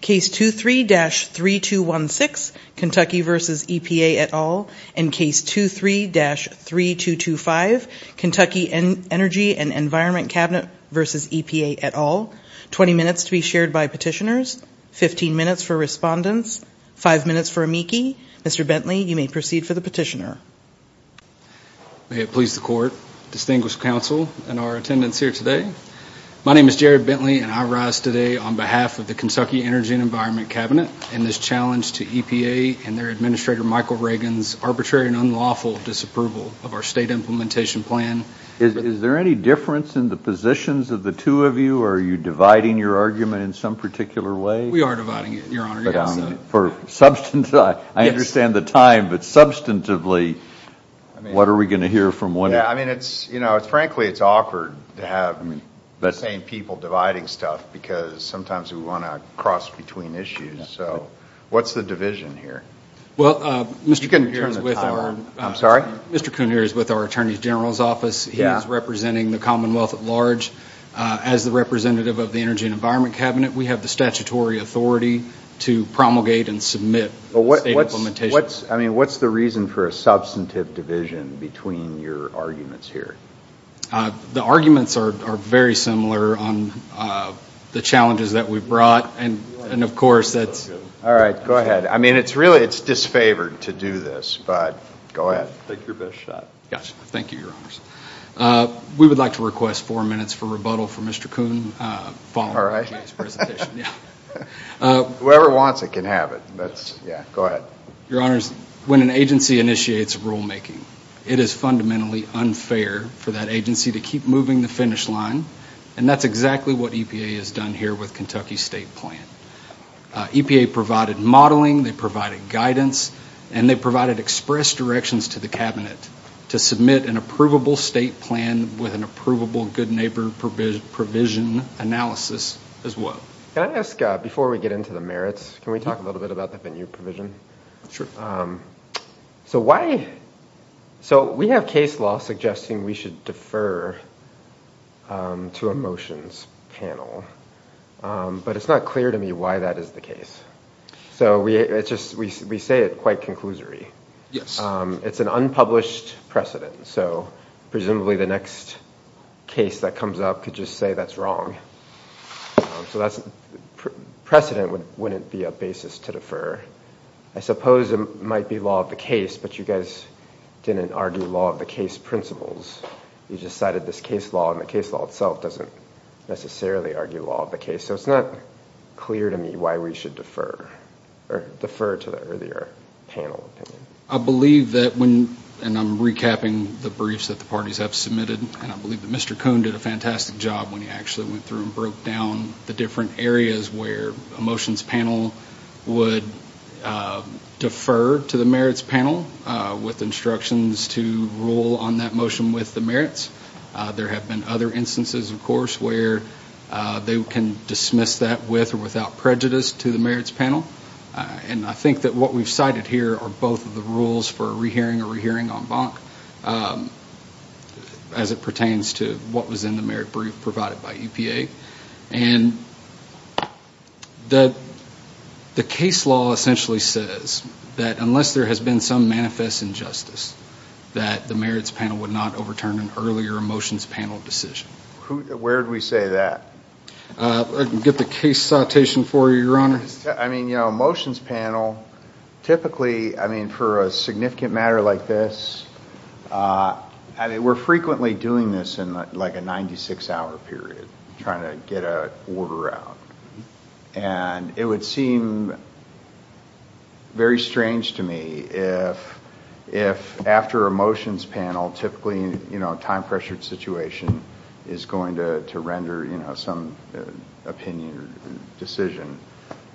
Case 23-3216, Kentucky v. EPA et al. and Case 23-3225, Kentucky Energy and Environment Cabinet v. EPA et al. 20 minutes to be shared by petitioners, 15 minutes for respondents, 5 minutes for amici. Mr. Bentley, you may proceed for the petitioner. May it please the court, distinguished counsel and our attendants here today. My name is Jared Bentley, and I rise today on behalf of the Kentucky Energy and Environment Cabinet and this challenge to EPA and their administrator Michael Reagan's arbitrary and unlawful disapproval of our state implementation plan. Is there any difference in the positions of the two of you, or are you dividing your argument in some particular way? We are dividing it, Your Honor. I understand the time, but substantively, what are we going to hear from one another? Frankly, it's awkward to have the same people dividing stuff because sometimes we want to cross between issues. What's the division here? Mr. Cooner is with our Attorney General's Office. He is representing the Commonwealth at large. As the representative of the Energy and Environment Cabinet, we have the statutory authority to promulgate and submit state implementations. What's the reason for a substantive division between your arguments here? The arguments are very similar on the challenges that we've brought. Go ahead. It's really disfavored to do this. Go ahead. Take your best shot. Thank you, Your Honor. We would like to request four minutes for rebuttal from Mr. Cooner. All right. Whoever wants it can have it. Go ahead. Your Honor, when an agency initiates rulemaking, it is fundamentally unfair for that agency to keep moving the finish line, and that's exactly what EPA has done here with Kentucky State Plan. EPA provided modeling, they provided guidance, and they provided express directions to the Cabinet to submit an approvable state plan with an approvable good neighbor provision analysis as well. Can I ask, before we get into the merits, can we talk a little bit about the venue provision? Sure. So we have case law suggesting we should defer to a motions panel, but it's not clear to me why that is the case. So we say it's quite conclusory. Yes. It's an unpublished precedent. So presumably the next case that comes up could just say that's wrong. So precedent wouldn't be a basis to defer. I suppose it might be law of the case, but you guys didn't argue law of the case principles. You just cited this case law, and the case law itself doesn't necessarily argue law of the case. So it's not clear to me why we should defer to the earlier panel. I believe that when, and I'm recapping the briefs that the parties have submitted, and I believe that Mr. Coon did a fantastic job when he actually went through and broke down the different areas where a motions panel would defer to the merits panel with instructions to rule on that motion with the merits. There have been other instances, of course, where they can dismiss that with or without prejudice to the merits panel. And I think that what we've cited here are both of the rules for rehearing or rehearing en banc as it pertains to what was in the merit brief provided by EPA. And the case law essentially says that unless there has been some manifest injustice, that the merits panel would not overturn an earlier motions panel decision. Where do we say that? Get the case citation for you, Your Honor. I mean, you know, motions panel, typically, I mean, for a significant matter like this, we're frequently doing this in like a 96-hour period, trying to get an order out. And it would seem very strange to me if after a motions panel, typically, you know, time pressure situation is going to render, you know, some opinion or decision.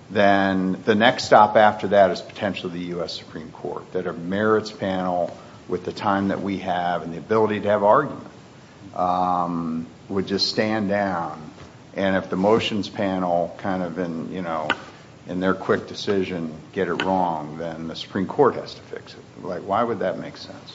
Then the next stop after that is potentially the U.S. Supreme Court, that a merits panel with the time that we have and the ability to have argument would just stand down. And if the motions panel kind of in, you know, in their quick decision get it wrong, then the Supreme Court has to fix it, right? Why would that make sense?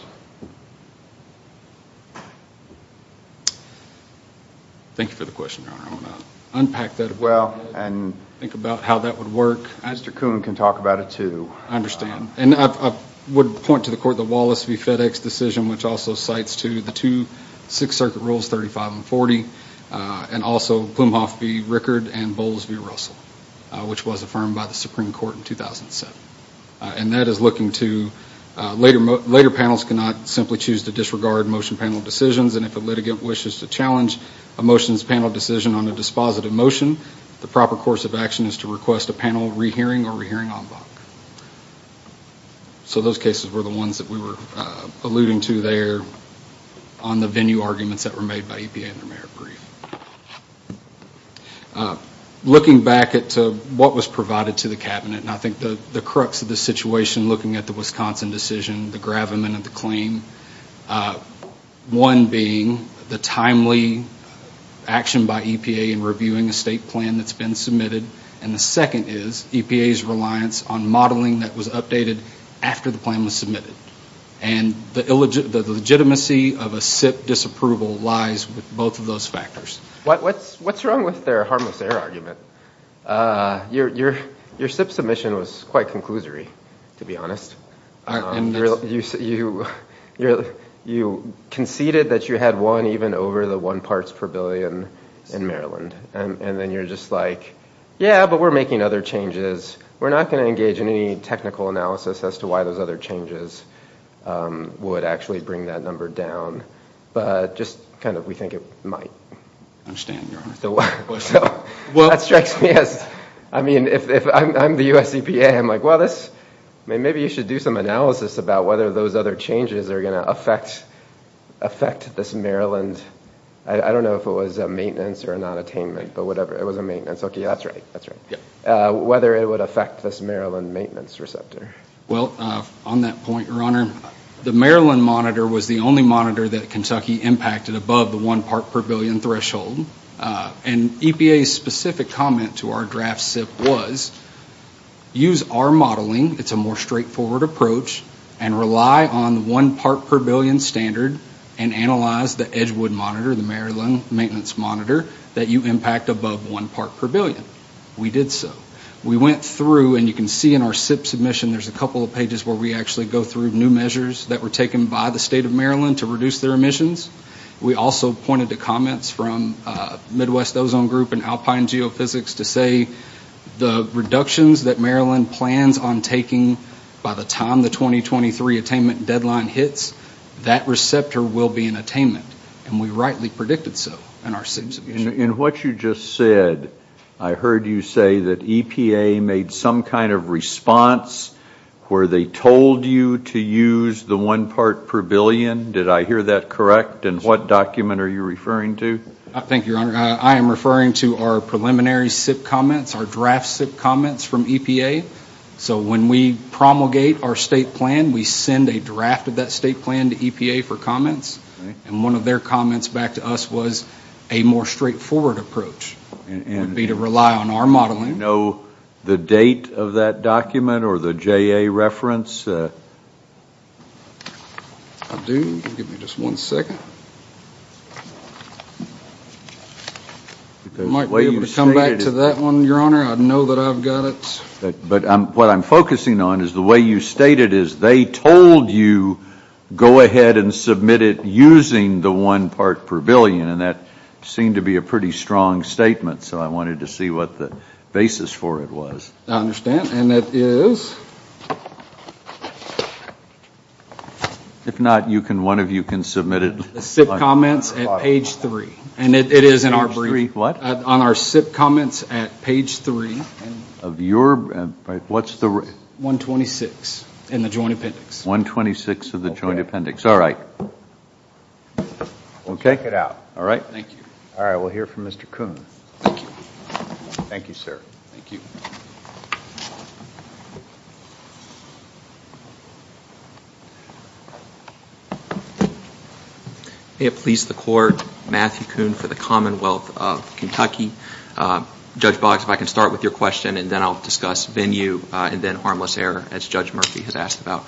Thank you for the question, Your Honor. I want to unpack that a little bit and think about how that would work. Mr. Kuhn can talk about it too. I understand. And I would point to the court the Wallace v. FedEx decision, which also cites to the two Sixth Circuit Rules 35 and 40, and also Glymphoff v. Rickard and Bowles v. Russell, which was affirmed by the Supreme Court in 2007. And that is looking to later panels cannot simply choose to disregard motion panel decisions, and if a litigant wishes to challenge a motions panel decision on a dispositive motion, the proper course of action is to request a panel rehearing or rehearing on file. So those cases were the ones that we were alluding to there on the venue arguments that were made by EPA and the Mayor of Virginia. Looking back at what was provided to the Cabinet, and I think the crux of the situation looking at the Wisconsin decision, the gravamen of the claim, one being the timely action by EPA in reviewing the state plan that's been submitted, and the second is EPA's reliance on modeling that was updated after the plan was submitted. And the legitimacy of a SIP disapproval lies with both of those factors. What's wrong with their harmless error argument? Your SIP submission was quite conclusory, to be honest. You conceded that you had one even over the one parts per billion in Maryland, and then you're just like, yeah, but we're making other changes. We're not going to engage in any technical analysis as to why those other changes would actually bring that number down, but just kind of we think it might. I understand your question. Well, that strikes me as, I mean, if I'm the US EPA, I'm like, well, maybe you should do some analysis about whether those other changes are going to affect this Maryland, I don't know if it was a maintenance or an unattainment, but whatever, it was a maintenance. Okay, that's right, that's right. Whether it would affect this Maryland maintenance receptor. Well, on that point, your honor, the Maryland monitor was the only monitor that Kentucky impacted above the one part per billion threshold, and EPA's specific comment to our draft SIP was, use our modeling, it's a more straightforward approach, and rely on the one part per billion standard and analyze the Edgewood monitor, the Maryland maintenance monitor, that you impact above one part per billion. We did so. We went through, and you can see in our SIP submission, there's a couple of pages where we actually go through new measures that were taken by the state of Maryland to reduce their emissions. We also pointed to comments from Midwest Ozone Group and Alpine Geophysics to say, the reductions that Maryland plans on taking by the time the 2023 attainment deadline hits, that receptor will be an attainment, and we rightly predicted so in our SIP submission. In what you just said, I heard you say that EPA made some kind of response where they told you to use the one part per billion. Did I hear that correct, and what document are you referring to? Thank you, your honor. I am referring to our preliminary SIP comments, our draft SIP comments from EPA. So when we promulgate our state plan, we send a draft of that state plan to EPA for comments, and one of their comments back to us was a more straightforward approach, and be to rely on our modeling. Do you know the date of that document or the JA reference? I do. I'll give you just one second. I might be able to come back to that one, your honor. I know that I've got it. But what I'm focusing on is the way you state it is they told you go ahead and submit it using the one part per billion, and that seemed to be a pretty strong statement, so I wanted to see what the basis for it was. I understand, and it is? If not, one of you can submit it. The SIP comments at page three, and it is in our brief. What? On our SIP comments at page three. Of your, what's the? 126 in the joint appendix. 126 of the joint appendix. All right. We'll check it out. All right. Thank you. All right, we'll hear from Mr. Kuhn. Thank you. Thank you, sir. Thank you. May it please the court, Matthew Kuhn for the Commonwealth of Kentucky. Judge Boggs, if I can start with your question, and then I'll discuss venue and then harmless error, as Judge Murphy has asked about.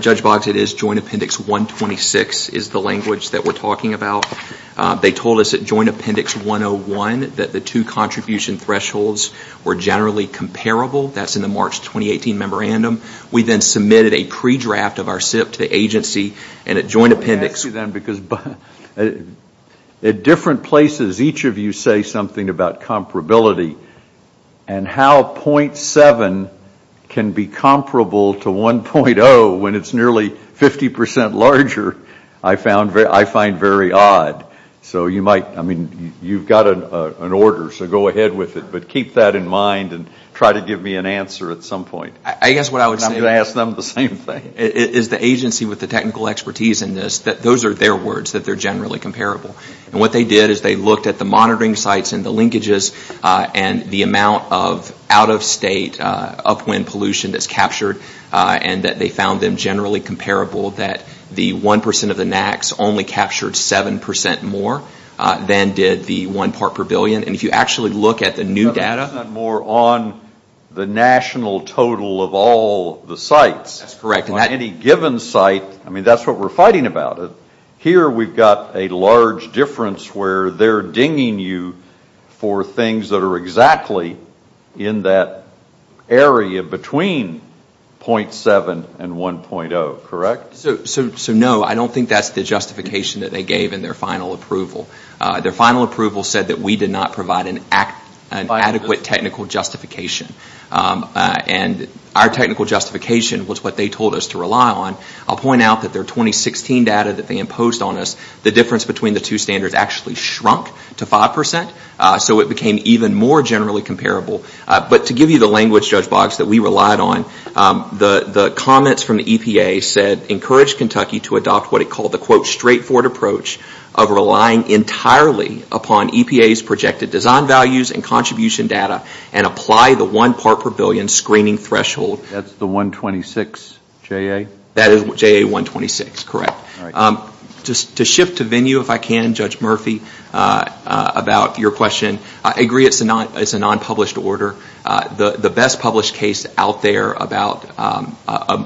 Judge Boggs, it is joint appendix 126 is the language that we're talking about. They told us at joint appendix 101 that the two contribution thresholds were generally comparable. That's in the March 2018 memorandum. We then submitted a pre-draft of our SIP to the agency, and at joint appendix. At different places, each of you say something about comparability, and how .7 can be comparable to 1.0 when it's nearly 50% larger, I find very odd. So you might, I mean, you've got an order, so go ahead with it, but keep that in mind and try to give me an answer at some point. I guess what I would say is the agency with the technical expertise in this, those are their words, that they're generally comparable. And what they did is they looked at the monitoring sites and the linkages and the amount of out-of-state upwind pollution that's captured, and that they found them generally comparable that the 1% of the NACs only captured 7% more than did the one part per billion. And if you actually look at the new data. That's more on the national total of all the sites. That's correct. On any given site, I mean, that's what we're fighting about. Here we've got a large difference where they're dinging you for things that are exactly in that area between .7 and 1.0, correct? So, no, I don't think that's the justification that they gave in their final approval. Their final approval said that we did not provide an adequate technical justification. And our technical justification was what they told us to rely on. I'll point out that their 2016 data that they imposed on us, the difference between the two standards actually shrunk to 5%, so it became even more generally comparable. But to give you the language, Judge Boggs, that we relied on, the comments from the EPA said encourage Kentucky to adopt what it called the, quote, straightforward approach of relying entirely upon EPA's projected design values and contribution data and apply the one part per billion screening threshold. That's the 126 JA? That is JA 126, correct. To shift the venue if I can, Judge Murphy, about your question, I agree it's a non-published order. The best published case out there about an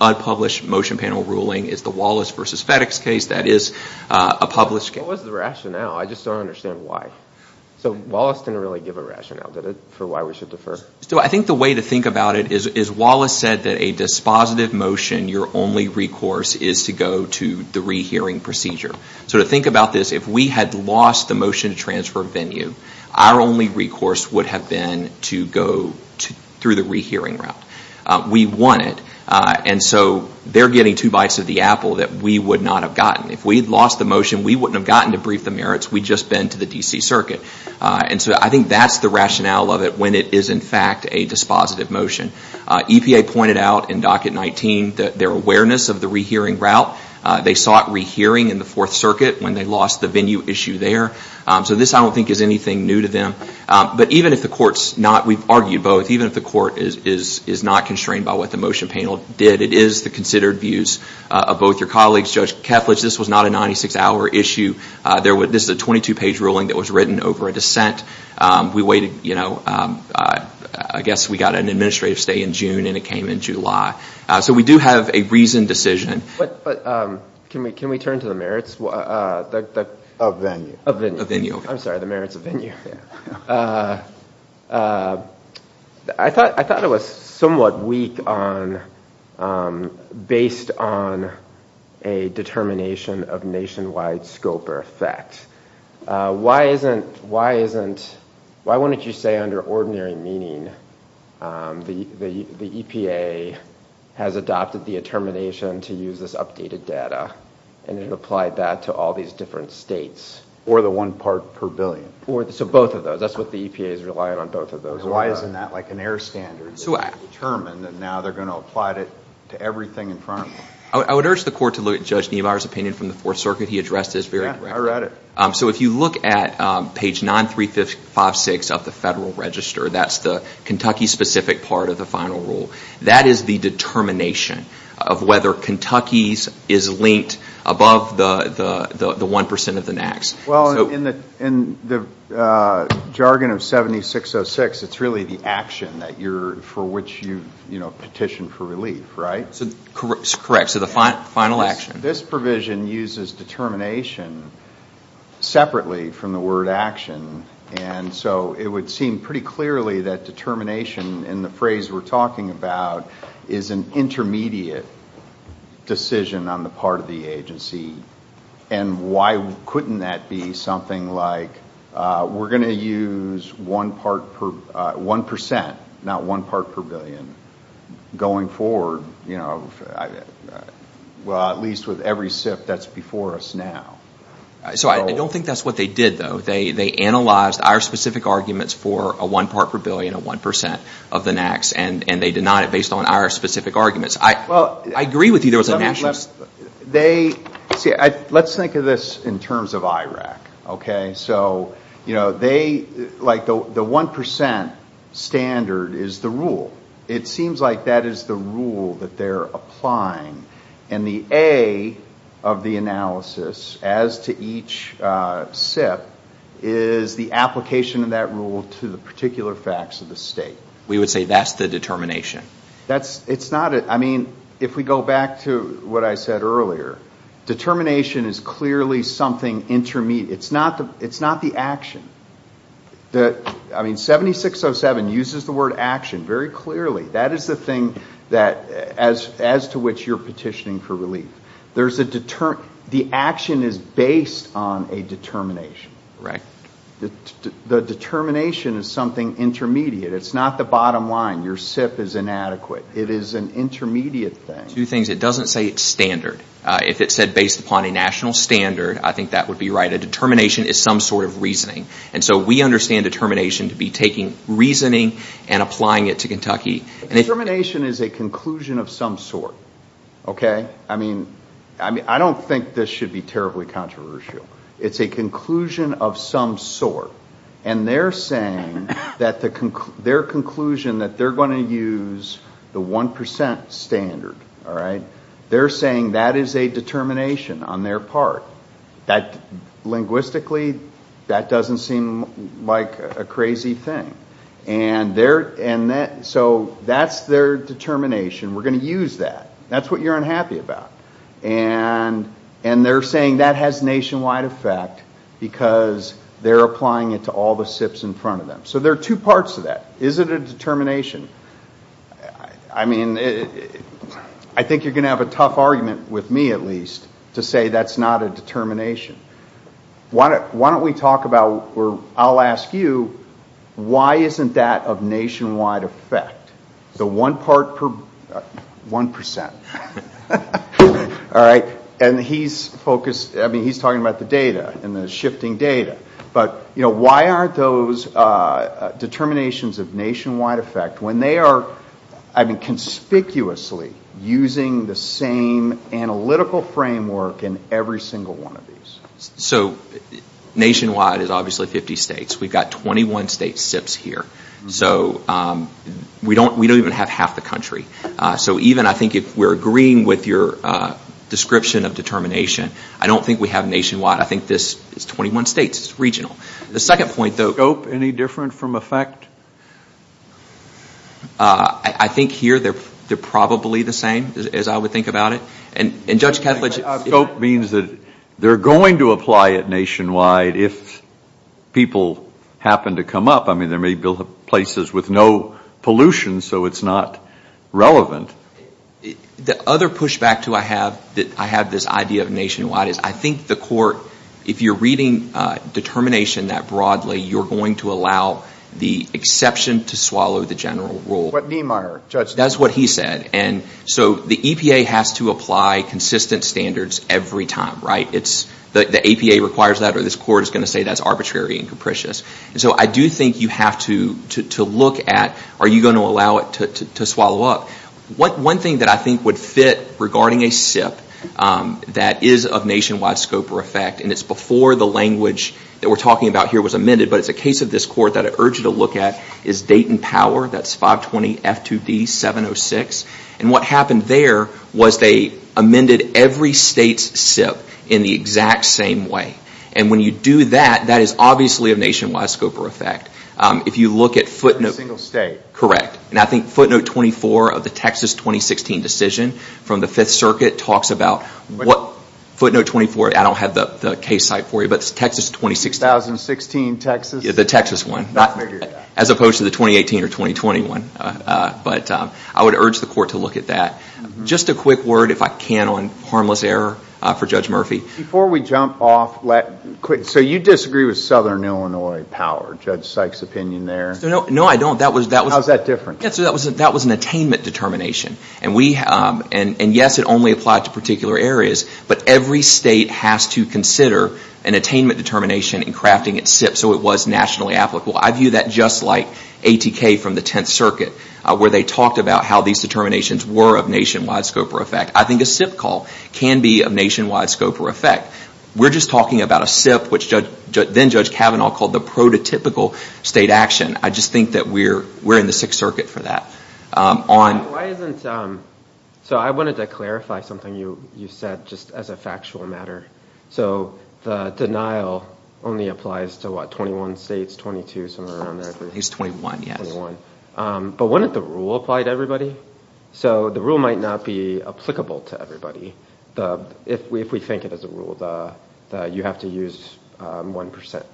unpublished motion panel ruling is the Wallace v. FedEx case. That is a published case. What was the rationale? I just don't understand why. So Wallace didn't really give a rationale for why we should defer. I think the way to think about it is Wallace said that a dispositive motion, your only recourse is to go to the rehearing procedure. So to think about this, if we had lost the motion to transfer venue, our only recourse would have been to go through the rehearing route. We won it, and so they're getting two bites of the apple that we would not have gotten. If we had lost the motion, we wouldn't have gotten to brief the merits. We'd just been to the D.C. Circuit. And so I think that's the rationale of it when it is, in fact, a dispositive motion. EPA pointed out in Docket 19 that their awareness of the rehearing route, they sought rehearing in the Fourth Circuit when they lost the venue issue there. So this I don't think is anything new to them. But even if the court's not, we've argued both, even if the court is not constrained by what the motion panel did, it is the considered views of both your colleagues. Judge Kaplitz, this was not a 96-hour issue. This is a 22-page ruling that was written over a dissent. We waited, you know, I guess we got an administrative stay in June, and it came in July. So we do have a reasoned decision. But can we turn to the merits of venue? I'm sorry, the merits of venue. I thought it was somewhat weak based on a determination of nationwide scope or effect. Why wouldn't you say under ordinary meaning the EPA has adopted the determination to use this updated data and they've applied that to all these different states? Or the one part per billion. So both of those. That's what the EPA has relied on, both of those. Why isn't that like an air standard to determine that now they're going to apply it to everything in front of them? I would urge the court to look at Judge Neubauer's opinion from the Fourth Circuit. He addressed this very directly. Yeah, I read it. So if you look at page 9356 of the Federal Register, that's the Kentucky-specific part of the final rule. That is the determination of whether Kentucky is linked above the 1% of the max. Well, in the jargon of 7606, it's really the action for which you petition for relief, right? Correct. So the final action. This provision uses determination separately from the word action, and so it would seem pretty clearly that determination in the phrase we're talking about is an intermediate decision on the part of the agency, and why couldn't that be something like we're going to use 1% not 1 part per billion going forward, at least with every SIF that's before us now? So I don't think that's what they did, though. They analyzed our specific arguments for a 1 part per billion, a 1% of the max, and they denied it based on our specific arguments. Well, I agree with you there was an action. Let's think of this in terms of IRAC, okay? So, you know, like the 1% standard is the rule. It seems like that is the rule that they're applying, and the A of the analysis as to each SIF is the application of that rule to the particular facts of the state. We would say that's the determination. I mean, if we go back to what I said earlier, determination is clearly something intermediate. It's not the action. I mean, 7607 uses the word action very clearly. That is the thing as to which you're petitioning for relief. The action is based on a determination, right? The determination is something intermediate. It's not the bottom line. Your SIF is inadequate. It is an intermediate thing. It doesn't say it's standard. If it said based upon a national standard, I think that would be right. A determination is some sort of reasoning, and so we understand determination to be taking reasoning and applying it to Kentucky. Determination is a conclusion of some sort, okay? I mean, I don't think this should be terribly controversial. It's a conclusion of some sort, and they're saying that their conclusion that they're going to use the 1% standard, all right, they're saying that is a determination on their part. Linguistically, that doesn't seem like a crazy thing, and so that's their determination. We're going to use that. That's what you're unhappy about, and they're saying that has nationwide effect because they're applying it to all the SIFs in front of them. So there are two parts to that. Is it a determination? I mean, I think you're going to have a tough argument, with me at least, to say that's not a determination. Why don't we talk about, or I'll ask you, why isn't that of nationwide effect? So one part per 1%, all right, and he's focused, I mean, he's talking about the data and the shifting data, but, you know, why aren't those determinations of nationwide effect when they are, I mean, conspicuously using the same analytical framework in every single one of these? So nationwide is obviously 50 states. We've got 21 state SIFs here. So we don't even have half the country. So even, I think, if we're agreeing with your description of determination, I don't think we have nationwide. I think this is 21 states. It's regional. The second point, though. Scope, any different from effect? I think here they're probably the same, as I would think about it. And, Judge Kessler. Scope means that they're going to apply it nationwide if people happen to come up. I mean, there may be places with no pollution, so it's not relevant. The other pushback, too, I have, that I have this idea of nationwide, is I think the court, if you're reading determination that broadly, you're going to allow the exception to swallow the general rule. What Niemeyer, Judge? That's what he said. And so the EPA has to apply consistent standards every time, right? The EPA requires that or this court is going to say that's arbitrary and capricious. And so I do think you have to look at are you going to allow it to swallow up. One thing that I think would fit regarding a SIP that is of nationwide scope or effect, and it's before the language that we're talking about here was amended, but it's a case of this court that I urge you to look at, is Dayton Power. That's 520F2D706. And what happened there was they amended every state's SIP in the exact same way. And when you do that, that is obviously of nationwide scope or effect. If you look at footnote. Every single state. Correct. And I think footnote 24 of the Texas 2016 decision from the 5th Circuit talks about what footnote 24, I don't have the case site for you, but Texas 2016. 2016 Texas. The Texas one. Not major. As opposed to the 2018 or 2020 one. But I would urge the court to look at that. Just a quick word, if I can, on harmless error for Judge Murphy. Before we jump off, so you disagree with Southern Illinois Power, Judge Sykes' opinion there? No, I don't. How is that different? That was an attainment determination. And yes, it only applied to particular areas, but every state has to consider an attainment determination in crafting its SIP so it was nationally applicable. I view that just like ATK from the 10th Circuit, where they talked about how these determinations were of nationwide scope or effect. I think a SIP call can be a nationwide scope or effect. We're just talking about a SIP, which then Judge Kavanaugh called the prototypical state action. I just think that we're in the 6th Circuit for that. So I wanted to clarify something you said just as a factual matter. So the denial only applies to what, 21 states, 22, somewhere around there? It's 21, yes. But wouldn't the rule apply to everybody? So the rule might not be applicable to everybody. If we think it is a rule, you have to use 1%,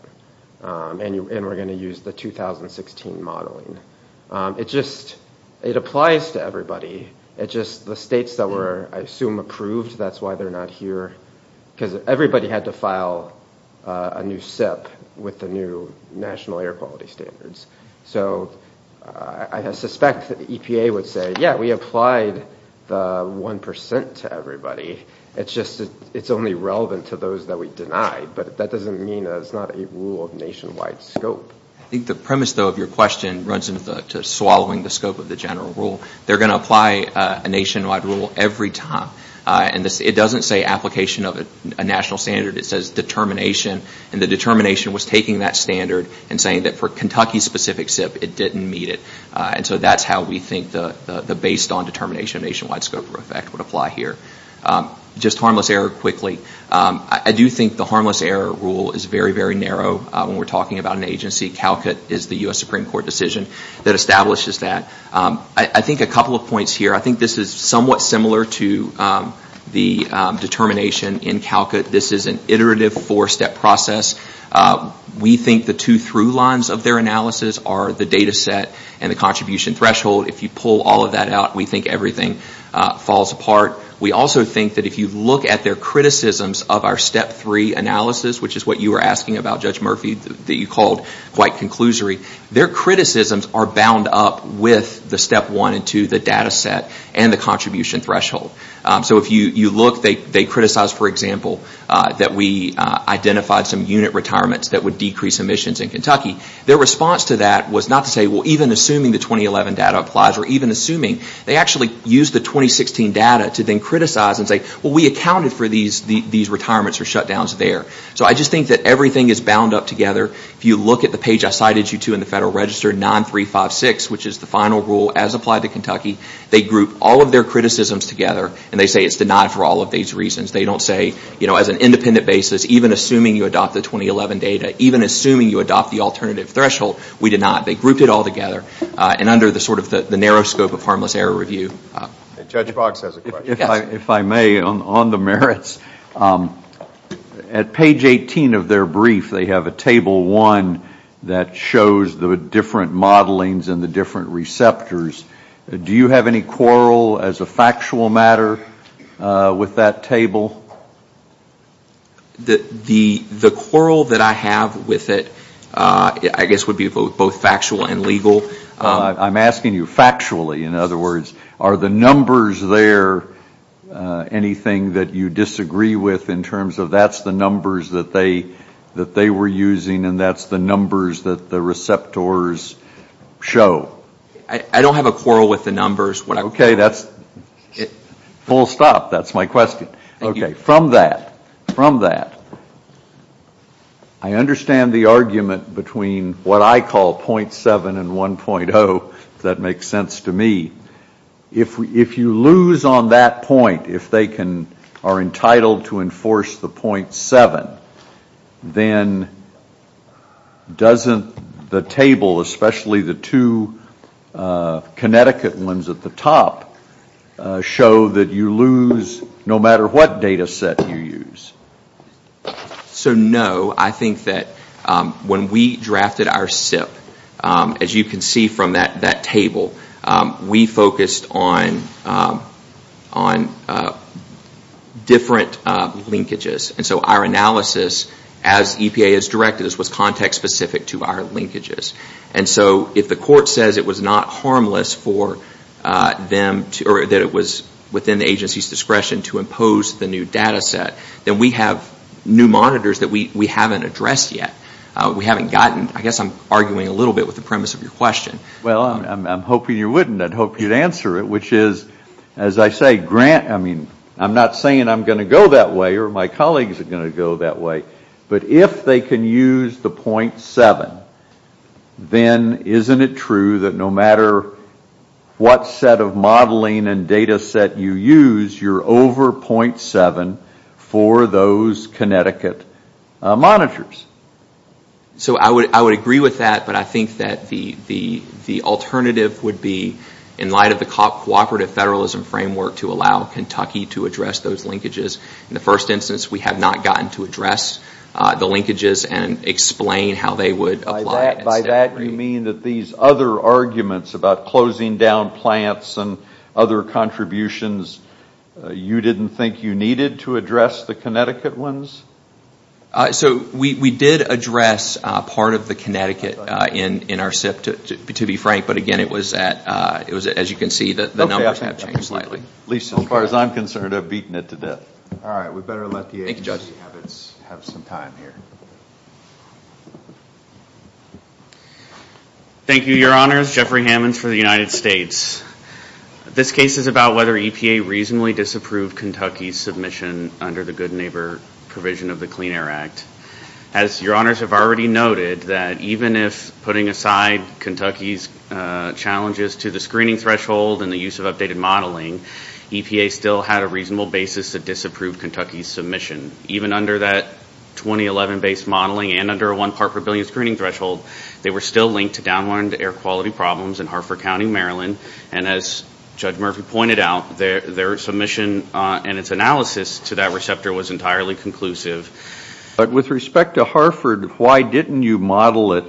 and we're going to use the 2016 modeling. It applies to everybody. It's just the states that were, I assume, approved, that's why they're not here, because everybody had to file a new SIP with the new national air quality standards. So I suspect that EPA would say, yeah, we applied the 1% to everybody. It's just that it's only relevant to those that we denied. But that doesn't mean that it's not a rule of nationwide scope. I think the premise, though, of your question runs into swallowing the scope of the general rule. They're going to apply a nationwide rule every time. And it doesn't say application of a national standard. It says determination, and the determination was taking that standard and saying that for Kentucky-specific SIP, it didn't meet it. And so that's how we think the based on determination nationwide scope effect would apply here. Just harmless error quickly. I do think the harmless error rule is very, very narrow when we're talking about an agency. CALCUT is the U.S. Supreme Court decision that establishes that. I think a couple of points here. I think this is somewhat similar to the determination in CALCUT. This is an iterative four-step process. We think the two through lines of their analysis are the data set and the contribution threshold. If you pull all of that out, we think everything falls apart. We also think that if you look at their criticisms of our step three analysis, which is what you were asking about, Judge Murphy, that you called quite conclusory, their criticisms are bound up with the step one and two, the data set, and the contribution threshold. So if you look, they criticized, for example, that we identified some unit retirements that would decrease emissions in Kentucky. Their response to that was not to say, well, even assuming the 2011 data applies, or even assuming, they actually used the 2016 data to then criticize and say, well, we accounted for these retirements or shutdowns there. So I just think that everything is bound up together. If you look at the page I cited you to in the Federal Register, 9356, which is the final rule as applied to Kentucky, they group all of their criticisms together and they say it's denied for all of these reasons. They don't say, you know, as an independent basis, even assuming you adopt the 2011 data, even assuming you adopt the alternative threshold, we deny. They group it all together and under the sort of the narrow scope of harmless error review. Judge Fox has a question. If I may, on the merits, at page 18 of their brief, they have a table one that shows the different modelings and the different receptors. Do you have any quarrel as a factual matter with that table? The quarrel that I have with it, I guess, would be both factual and legal. I'm asking you factually, in other words. Are the numbers there anything that you disagree with in terms of that's the numbers that they were using and that's the numbers that the receptors show? I don't have a quarrel with the numbers. Full stop. That's my question. Okay. From that, I understand the argument between what I call .7 and 1.0. That makes sense to me. If you lose on that point, if they are entitled to enforce the .7, then doesn't the table, especially the two Connecticut ones at the top, show that you lose no matter what data set you use? So, no. I think that when we drafted our SIP, as you can see from that table, we focused on different linkages. And so our analysis, as EPA has directed us, was context-specific to our linkages. And so if the court says it was not harmless for them, or that it was within the agency's discretion to impose the new data set, then we have new monitors that we haven't addressed yet. I guess I'm arguing a little bit with the premise of your question. Well, I'm hoping you wouldn't. I'd hope you'd answer it, which is, as I say, I'm not saying I'm going to go that way or my colleagues are going to go that way, but if they can use the .7, then isn't it true that no matter what set of modeling and data set you use, you're over .7 for those Connecticut monitors? So I would agree with that, but I think that the alternative would be, in light of the cooperative federalism framework to allow Kentucky to address those linkages, in the first instance we had not gotten to address the linkages and explain how they would apply. By that you mean that these other arguments about closing down plants and other contributions you didn't think you needed to address the Connecticut ones? So we did address part of the Connecticut in our SIP, to be frank, but again, as you can see, the numbers have changed slightly. At least so far as I'm concerned, they've beaten it to death. All right, we'd better let the agency have some time here. Thank you, Your Honors. Jeffrey Hammons for the United States. This case is about whether EPA reasonably disapproved Kentucky's submission under the Good Neighbor provision of the Clean Air Act. As Your Honors have already noted, that even if putting aside Kentucky's challenges to the screening threshold and the use of updated modeling, EPA still had a reasonable basis to disapprove Kentucky's submission. Even under that 2011-based modeling and under a one part per billion screening threshold, they were still linked to downwind air quality problems in Hartford County, Maryland, and as Judge Murphy pointed out, their submission and its analysis to that receptor was entirely conclusive. But with respect to Hartford, why didn't you model it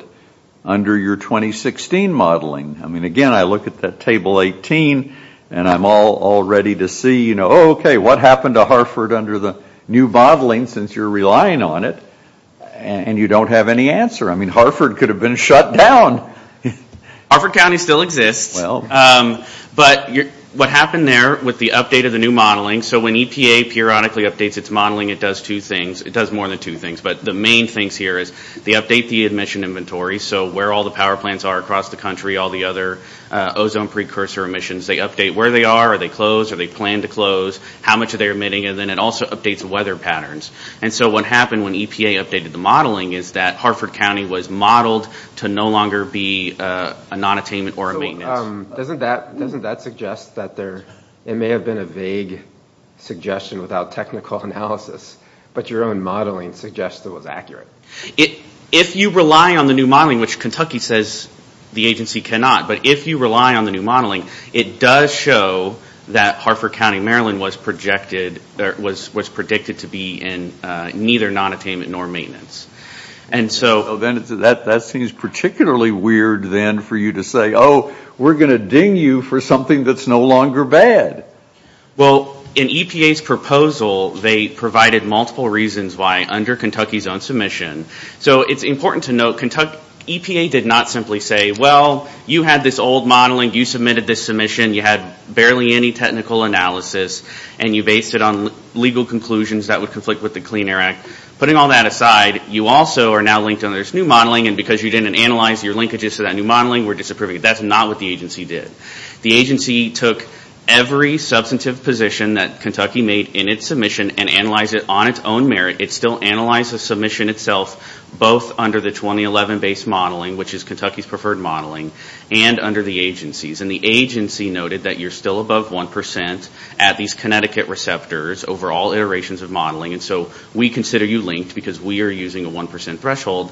under your 2016 modeling? I mean, again, I look at that Table 18, and I'm all ready to see, you know, okay, what happened to Hartford under the new modeling since you're relying on it, and you don't have any answer. I mean, Hartford could have been shut down. Hartford County still exists, but what happened there was the update of the new modeling. So when EPA periodically updates its modeling, it does two things. It does more than two things, but the main things here is they update the emission inventory, so where all the power plants are across the country, all the other ozone precursor emissions. They update where they are. Are they closed? Are they planned to close? How much are they emitting? And then it also updates weather patterns. And so what happened when EPA updated the modeling is that Hartford County was modeled to no longer be a nonattainment or a maintenance. Doesn't that suggest that there may have been a vague suggestion without technical analysis, but your own modeling suggests it was accurate? If you rely on the new modeling, which Kentucky says the agency cannot, but if you rely on the new modeling, it does show that Hartford County, Maryland, was predicted to be in neither nonattainment nor maintenance. That seems particularly weird then for you to say, oh, we're going to ding you for something that's no longer bad. Well, in EPA's proposal, they provided multiple reasons why under Kentucky's own submission. So it's important to note, EPA did not simply say, well, you had this old modeling, you submitted this submission, you had barely any technical analysis, and you based it on legal conclusions that would conflict with the Clean Air Act. Putting all that aside, you also are now linked under this new modeling, and because you didn't analyze your linkages to that new modeling, we're disapproving it. That's not what the agency did. The agency took every substantive position that Kentucky made in its submission and analyzed it on its own merit. It still analyzed the submission itself both under the 2011-based modeling, which is Kentucky's preferred modeling, and under the agency's. And the agency noted that you're still above 1% at these Connecticut receptors over all iterations of modeling, and so we consider you linked because we are using a 1% threshold.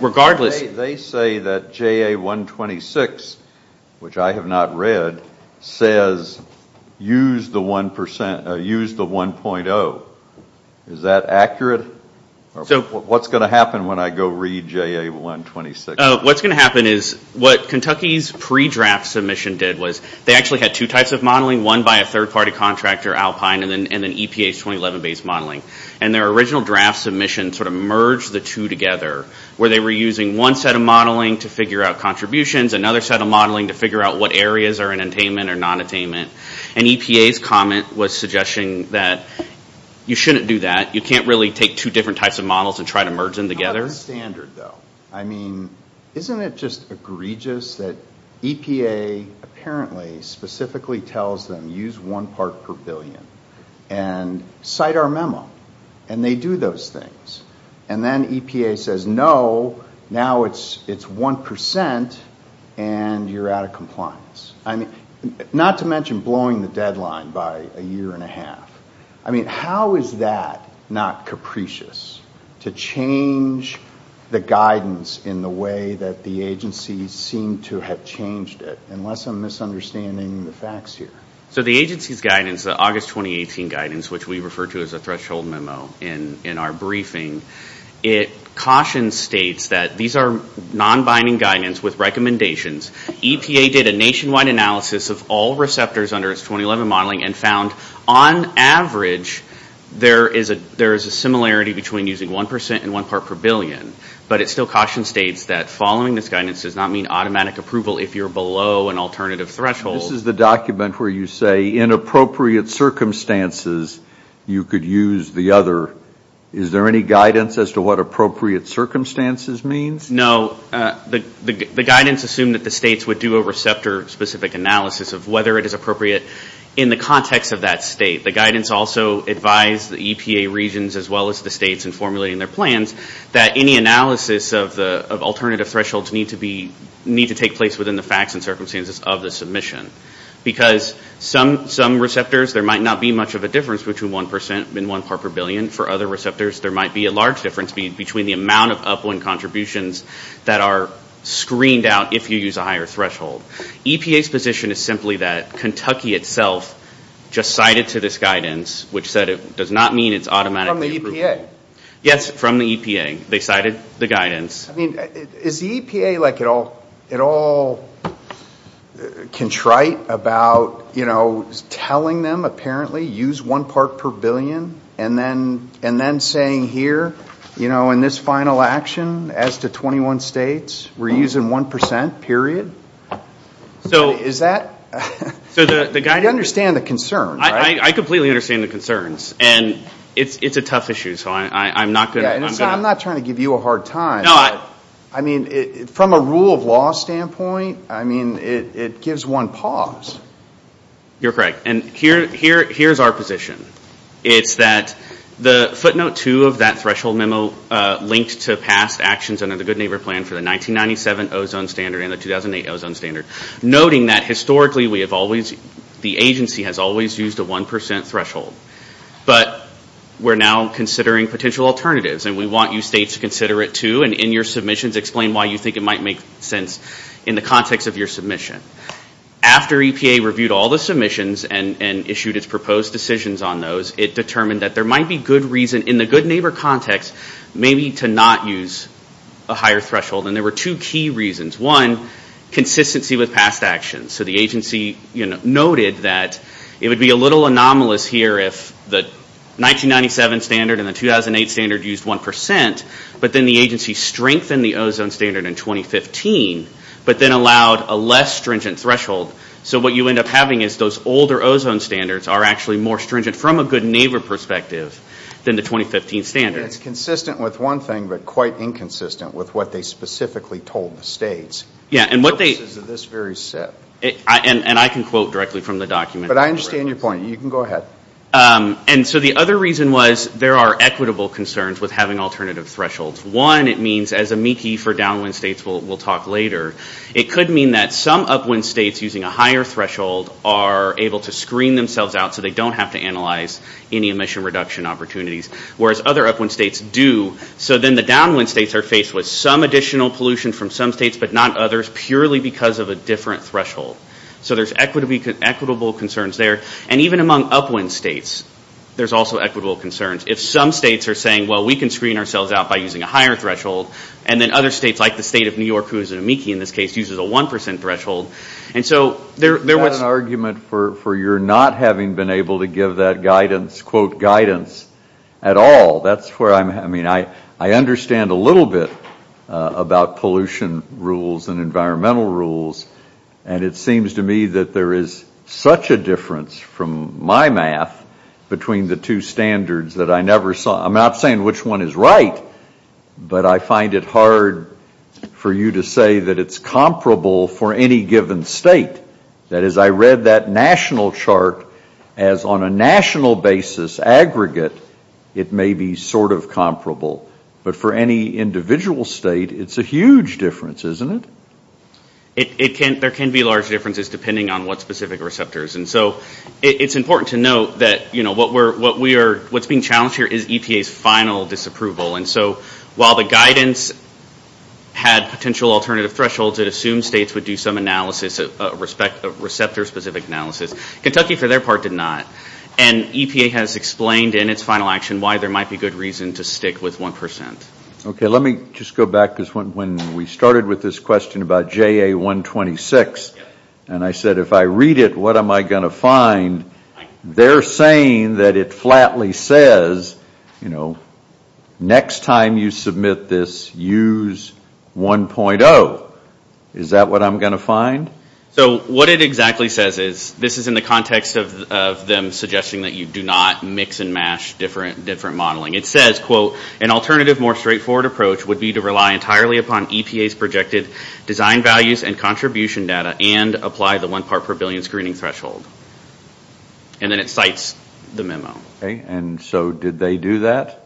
They say that JA-126, which I have not read, says use the 1.0. Is that accurate? What's going to happen when I go read JA-126? What's going to happen is what Kentucky's pre-draft submission did was they actually had two types of modeling, one by a third-party contractor, Alpine, and then EPA's 2011-based modeling. And their original draft submission sort of merged the two together, where they were using one set of modeling to figure out contributions, another set of modeling to figure out what areas are in attainment or non-attainment. And EPA's comment was suggesting that you shouldn't do that. You can't really take two different types of models and try to merge them together. By their standard, though, I mean, isn't it just egregious that EPA apparently specifically tells them use one part per billion and cite our memo? And they do those things. And then EPA says, no, now it's 1% and you're out of compliance. Not to mention blowing the deadline by a year and a half. I mean, how is that not capricious? To change the guidance in the way that the agencies seem to have changed it, unless I'm misunderstanding the facts here. So the agency's guidance, the August 2018 guidance, which we refer to as a threshold memo in our briefing, it caution states that these are non-binding guidance with recommendations. EPA did a nationwide analysis of all receptors under its 2011 modeling and found on average there is a similarity between using 1% and one part per billion. But it still caution states that following this guidance does not mean automatic approval if you're below an alternative threshold. This is the document where you say in appropriate circumstances you could use the other. Is there any guidance as to what appropriate circumstances means? No. The guidance assumed that the states would do a receptor-specific analysis of whether it is appropriate in the context of that state. The guidance also advised the EPA regions as well as the states in formulating their plans that any analysis of alternative thresholds need to take place within the facts and circumstances of the submission. Because some receptors, there might not be much of a difference between 1% and one part per billion. For other receptors, there might be a large difference between the amount of upwind contributions that are screened out if you use a higher threshold. EPA's position is simply that Kentucky itself just cited to this guidance, which does not mean it's automatic approval. Yes, from the EPA. They cited the guidance. Is the EPA at all contrite about telling them apparently use one part per billion and then saying here in this final action as to 21 states, we're using 1%, period? I understand the concern. I completely understand the concerns. It's a tough issue. I'm not trying to give you a hard time. From a rule of law standpoint, it gives one pause. You're right. Here's our position. It's that footnote two of that threshold memo links to past actions under the Good Neighbor Plan for the 1997 ozone standard and the 2008 ozone standard, noting that historically the agency has always used a 1% threshold. But we're now considering potential alternatives, and we want you states to consider it too and in your submissions explain why you think it might make sense in the context of your submission. After EPA reviewed all the submissions and issued its proposed decisions on those, it determined that there might be good reason in the good neighbor context maybe to not use a higher threshold. And there were two key reasons. One, consistency with past actions. So the agency noted that it would be a little anomalous here if the 1997 standard and the 2008 standard used 1%, but then the agency strengthened the ozone standard in 2015, but then allowed a less stringent threshold. So what you end up having is those older ozone standards are actually more stringent from a good neighbor perspective than the 2015 standard. It's consistent with one thing, but quite inconsistent with what they specifically told the states. Yeah, and what they... Because of this very set. And I can quote directly from the document. But I understand your point. You can go ahead. And so the other reason was there are equitable concerns with having alternative thresholds. One, it means as a meaty for downwind states, we'll talk later. It could mean that some upwind states using a higher threshold are able to screen themselves out so they don't have to analyze any emission reduction opportunities, whereas other upwind states do. So then the downwind states are faced with some additional pollution from some states but not others purely because of a different threshold. So there's equitable concerns there. And even among upwind states, there's also equitable concerns. If some states are saying, well, we can screen ourselves out by using a higher threshold and then other states like the state of New York, who is a meaty in this case, uses a 1% threshold. And so there was... I've got an argument for your not having been able to give that guidance, quote, guidance at all. That's where I'm... I mean, I understand a little bit about pollution rules and environmental rules. And it seems to me that there is such a difference from my math between the two standards that I never saw. I'm not saying which one is right, but I find it hard for you to say that it's comparable for any given state. That is, I read that national chart as on a national basis aggregate, it may be sort of comparable. But for any individual state, it's a huge difference, isn't it? There can be large differences depending on what specific receptors. And so it's important to note that what we are... what's being challenged here is EPA's final disapproval. And so while the guidance had potential alternative thresholds, it assumed states would do some analysis, receptor-specific analysis. Kentucky, for their part, did not. And EPA has explained in its final action why there might be good reason to stick with 1%. Okay, let me just go back to when we started with this question about JA-126. And I said, if I read it, what am I going to find? They're saying that it flatly says, you know, next time you submit this, use 1.0. Is that what I'm going to find? So what it exactly says is, this is in the context of them suggesting that you do not mix and match different modeling. It says, quote, an alternative, more straightforward approach would be to rely entirely upon EPA's projected design values and contribution data and apply the one part per billion screening threshold. And then it cites the memo. Okay, and so did they do that?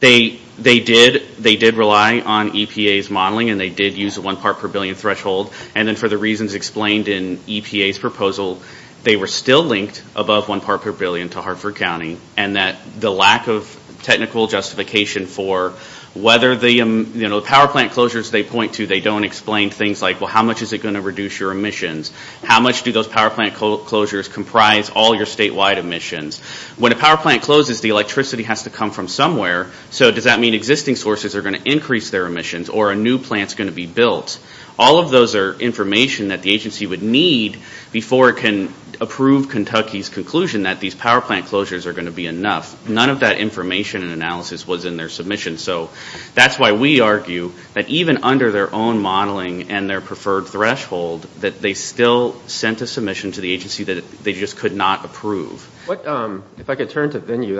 They did. They did rely on EPA's modeling and they did use the one part per billion threshold. And then for the reasons explained in EPA's proposal, they were still linked above one part per billion to Hartford County and that the lack of technical justification for whether the, you know, power plant closures they point to, they don't explain things like, well, how much is it going to reduce your emissions? How much do those power plant closures comprise all your statewide emissions? When a power plant closes, the electricity has to come from somewhere. So does that mean existing sources are going to increase their emissions or a new plant is going to be built? All of those are information that the agency would need before it can approve Kentucky's conclusion that these power plant closures are going to be enough. None of that information and analysis was in their submission. So that's why we argue that even under their own modeling and their preferred threshold, that they still sent a submission to the agency that they just could not approve. If I could turn to Vinnie,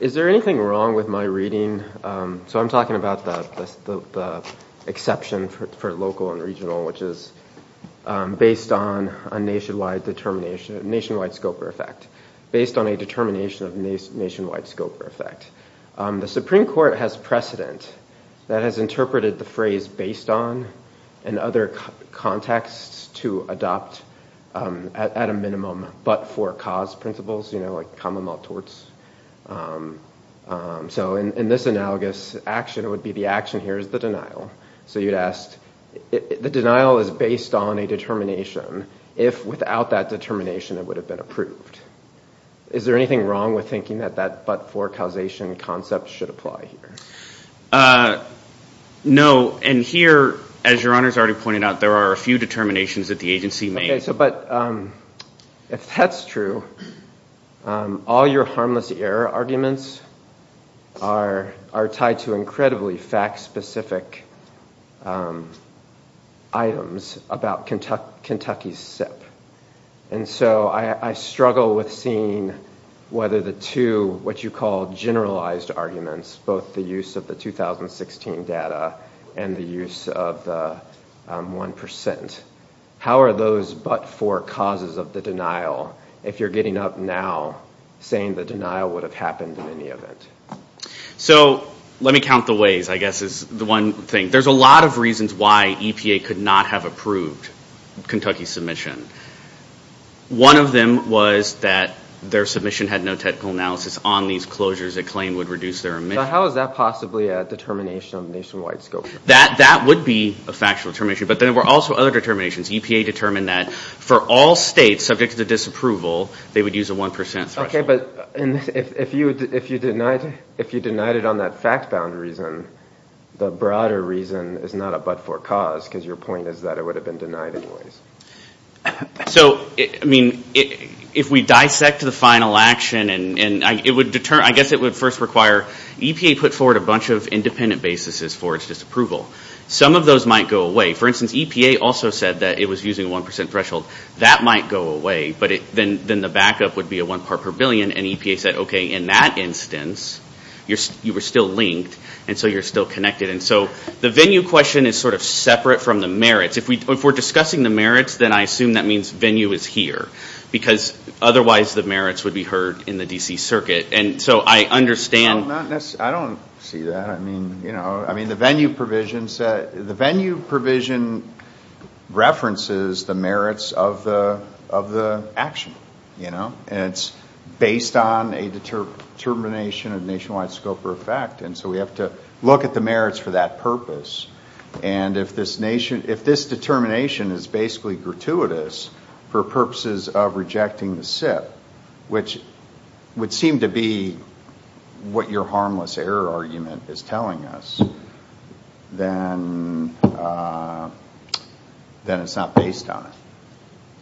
is there anything wrong with my reading? So I'm talking about the exception for local and regional, which is based on a nationwide determination, a nationwide scope for effect, based on a determination of nationwide scope for effect. The Supreme Court has precedent that has interpreted the phrase based on and other contexts to adopt, at a minimum, but-for-cause principles, you know, like common law torts. So in this analogous action would be the action here is the denial. So you'd ask, the denial is based on a determination. If without that determination, it would have been approved. Is there anything wrong with thinking that that but-for-causation concept should apply here? No. And here, as your Honor has already pointed out, there are a few determinations that the agency made. But if that's true, all your harmless error arguments are tied to incredibly fact-specific items about Kentucky's SIP. And so I struggle with seeing whether the two, what you call generalized arguments, both the use of the 2016 data and the use of the 1%, how are those but-for causes of the denial, if you're getting up now saying the denial would have happened in any event? So let me count the ways, I guess, is the one thing. There's a lot of reasons why EPA could not have approved Kentucky's submission. One of them was that their submission had no technical analysis on these closures they claimed would reduce their emissions. So how is that possibly a determination of a nationwide scope? That would be a factual determination. But there were also other determinations. EPA determined that for all states subject to disapproval, they would use a 1%. Okay, but if you denied it on that fact-bound reason, the broader reason is not a but-for cause, because your point is that it would have been denied anyway. So, I mean, if we dissect the final action, and I guess it would first require, EPA put forward a bunch of independent basis for its disapproval. Some of those might go away. For instance, EPA also said that it was using 1% threshold. That might go away, but then the backup would be a one part per billion, and EPA said, okay, in that instance, you were still linked, and so you're still connected. And so the venue question is sort of separate from the merits. If we're discussing the merits, then I assume that means venue is here, because otherwise the merits would be heard in the D.C. Circuit. And so I understand. I don't see that. I mean, the venue provision references the merits of the action. It's based on a determination of nationwide scope or fact, and so we have to look at the merits for that purpose. And if this determination is basically gratuitous for purposes of rejecting the SIP, which would seem to be what your harmless error argument is telling us, then it's not based on it.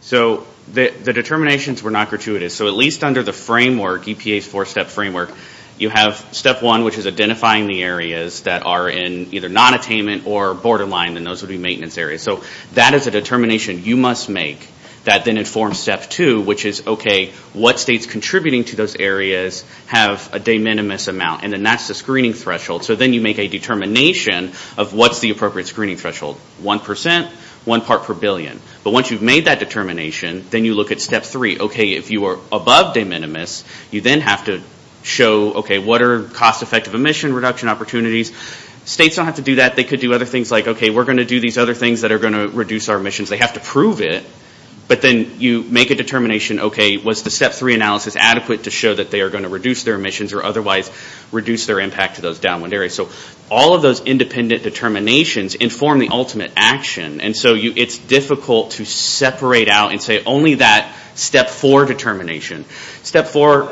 So the determinations were not gratuitous. So at least under the framework, EPA's four-step framework, you have step one, which is identifying the areas that are in either nonattainment or borderline, and those would be maintenance areas. So that is a determination you must make that then informs step two, which is, okay, what states contributing to those areas have a de minimis amount, and then that's the screening threshold. So then you make a determination of what's the appropriate screening threshold, one percent, one part per billion. But once you've made that determination, then you look at step three. Okay, if you are above de minimis, you then have to show, okay, what are cost-effective emission reduction opportunities. States don't have to do that. They could do other things like, okay, we're going to do these other things that are going to reduce our emissions. They have to prove it, but then you make a determination, okay, was the step three analysis adequate to show that they are going to reduce their emissions or otherwise reduce their impact to those downwind areas. So all of those independent determinations inform the ultimate action, and so it's difficult to separate out and say only that step four determination. Step four.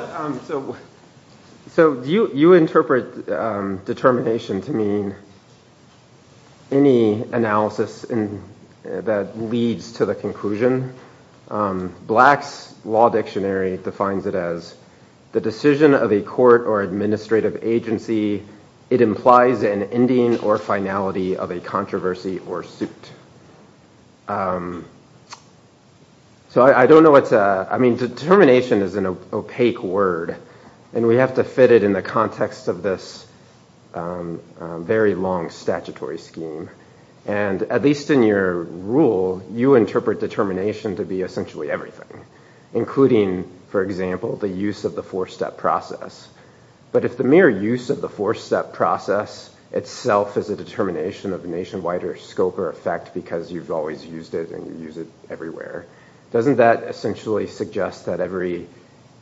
So you interpret determination to mean any analysis that leads to the conclusion. Black's Law Dictionary defines it as the decision of a court or administrative agency. It implies an ending or finality of a controversy or suit. So I don't know what the – I mean, determination is an opaque word, and we have to fit it in the context of this very long statutory scheme. And at least in your rule, you interpret determination to be essentially everything, including, for example, the use of the four-step process. But if the mere use of the four-step process itself is a determination of nationwide or scope or effect because you've always used it and you use it everywhere, doesn't that essentially suggest that every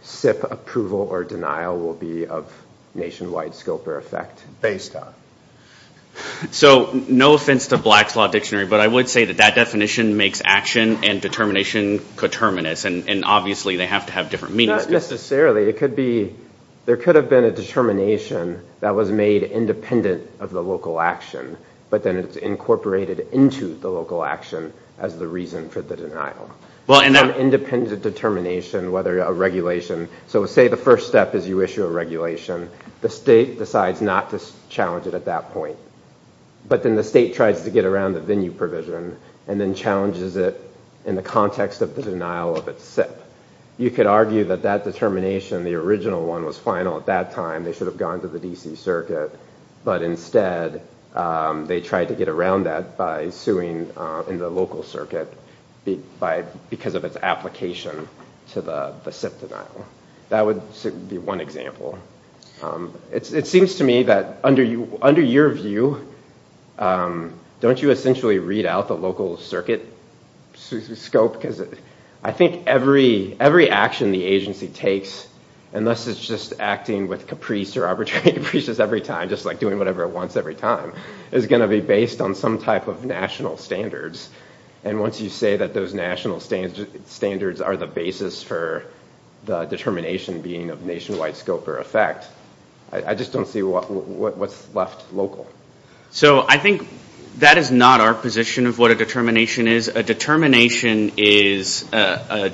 SIF approval or denial will be of nationwide scope or effect based on it? So no offense to Black's Law Dictionary, but I would say that that definition makes action and determination coterminous, and obviously they have to have different meanings. Not necessarily. It could be – there could have been a determination that was made independent of the local action, but then it's incorporated into the local action as the reason for the denial. An independent determination, whether a regulation – so say the first step is you issue a regulation. The state decides not to challenge it at that point, but then the state tries to get around the venue provision and then challenges it in the context of the denial of its SIF. You could argue that that determination, the original one, was final at that time. They should have gone to the D.C. Circuit. But instead, they tried to get around that by suing in the local circuit because of its application to the SIF denial. That would be one example. It seems to me that under your view, don't you essentially read out the local circuit scope? Because I think every action the agency takes, unless it's just acting with caprice or arbitrary caprices every time, just like doing whatever it wants every time, is going to be based on some type of national standards. And once you say that those national standards are the basis for the determination being of nationwide scope or effect, I just don't see what's left local. So I think that is not our position of what a determination is. A determination is a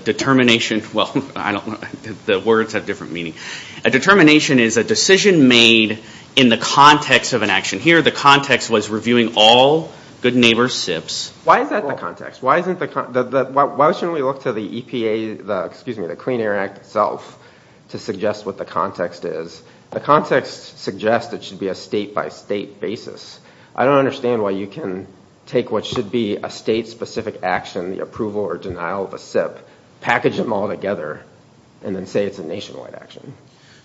decision made in the context of an action. Here, the context was reviewing all good neighbor SIFs. Why isn't that the context? Why shouldn't we look to the Clean Air Act itself to suggest what the context is? The context suggests it should be a state-by-state basis. I don't understand why you can take what should be a state-specific action, the approval or denial of a SIF, package them all together, and then say it's a nationwide action.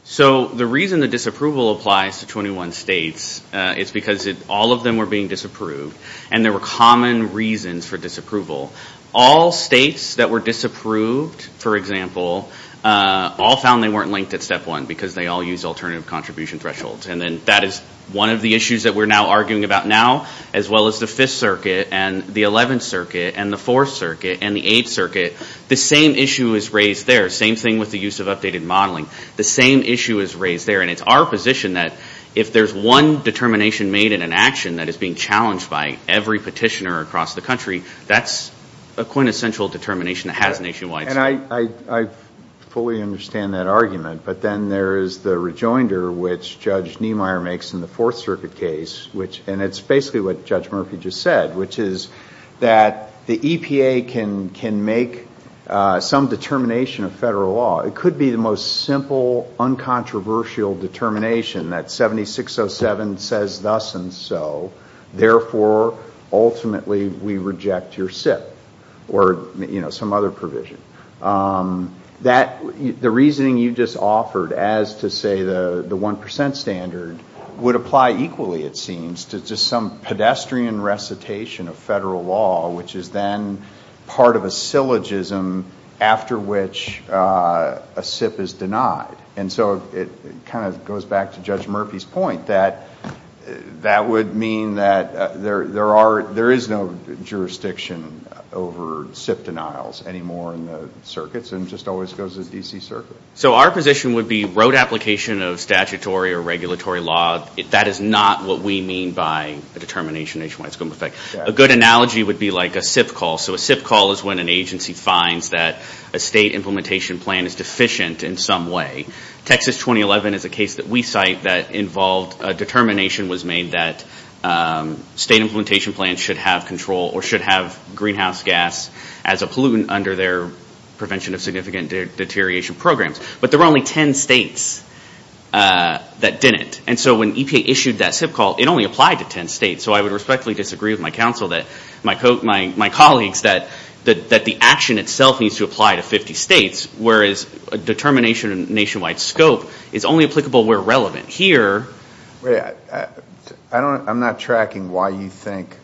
So the reason the disapproval applies to 21 states is because all of them were being disapproved, and there were common reasons for disapproval. All states that were disapproved, for example, all found they weren't linked at step one because they all used alternative contribution thresholds. That is one of the issues that we're now arguing about now, as well as the Fifth Circuit and the Eleventh Circuit and the Fourth Circuit and the Eighth Circuit. The same issue is raised there, the same thing with the use of updated modeling. The same issue is raised there, and it's our position that if there's one determination made in an action that is being challenged by every petitioner across the country, that's a quintessential determination that has a nationwide basis. I fully understand that argument, but then there's the rejoinder which Judge Niemeyer makes in the Fourth Circuit case, and it's basically what Judge Murphy just said, which is that the EPA can make some determination of federal law. It could be the most simple, uncontroversial determination that 7607 says thus and so, therefore, ultimately, we reject your SIF, or some other provision. The reasoning you just offered as to, say, the 1% standard would apply equally, it seems, to some pedestrian recitation of federal law, which is then part of a syllogism after which a SIF is denied. And so it kind of goes back to Judge Murphy's point that that would mean that there is no jurisdiction over SIF denials anymore in the circuits, and it just always goes to the D.C. Circuit. So our position would be road application of statutory or regulatory law, that is not what we mean by a determination nationwide. A good analogy would be like a SIF call. So a SIF call is when an agency finds that a state implementation plan is deficient in some way. Texas 2011 is a case that we cite that involved a determination was made that state implementation plans should have control or should have greenhouse gas as a pollutant under their prevention of significant deterioration programs. But there were only 10 states that didn't. And so when EPA issued that SIF call, it only applied to 10 states. So I would respectfully disagree with my colleagues that the action itself needs to apply to 50 states, whereas a determination nationwide scope is only applicable where relevant. I'm not tracking why you think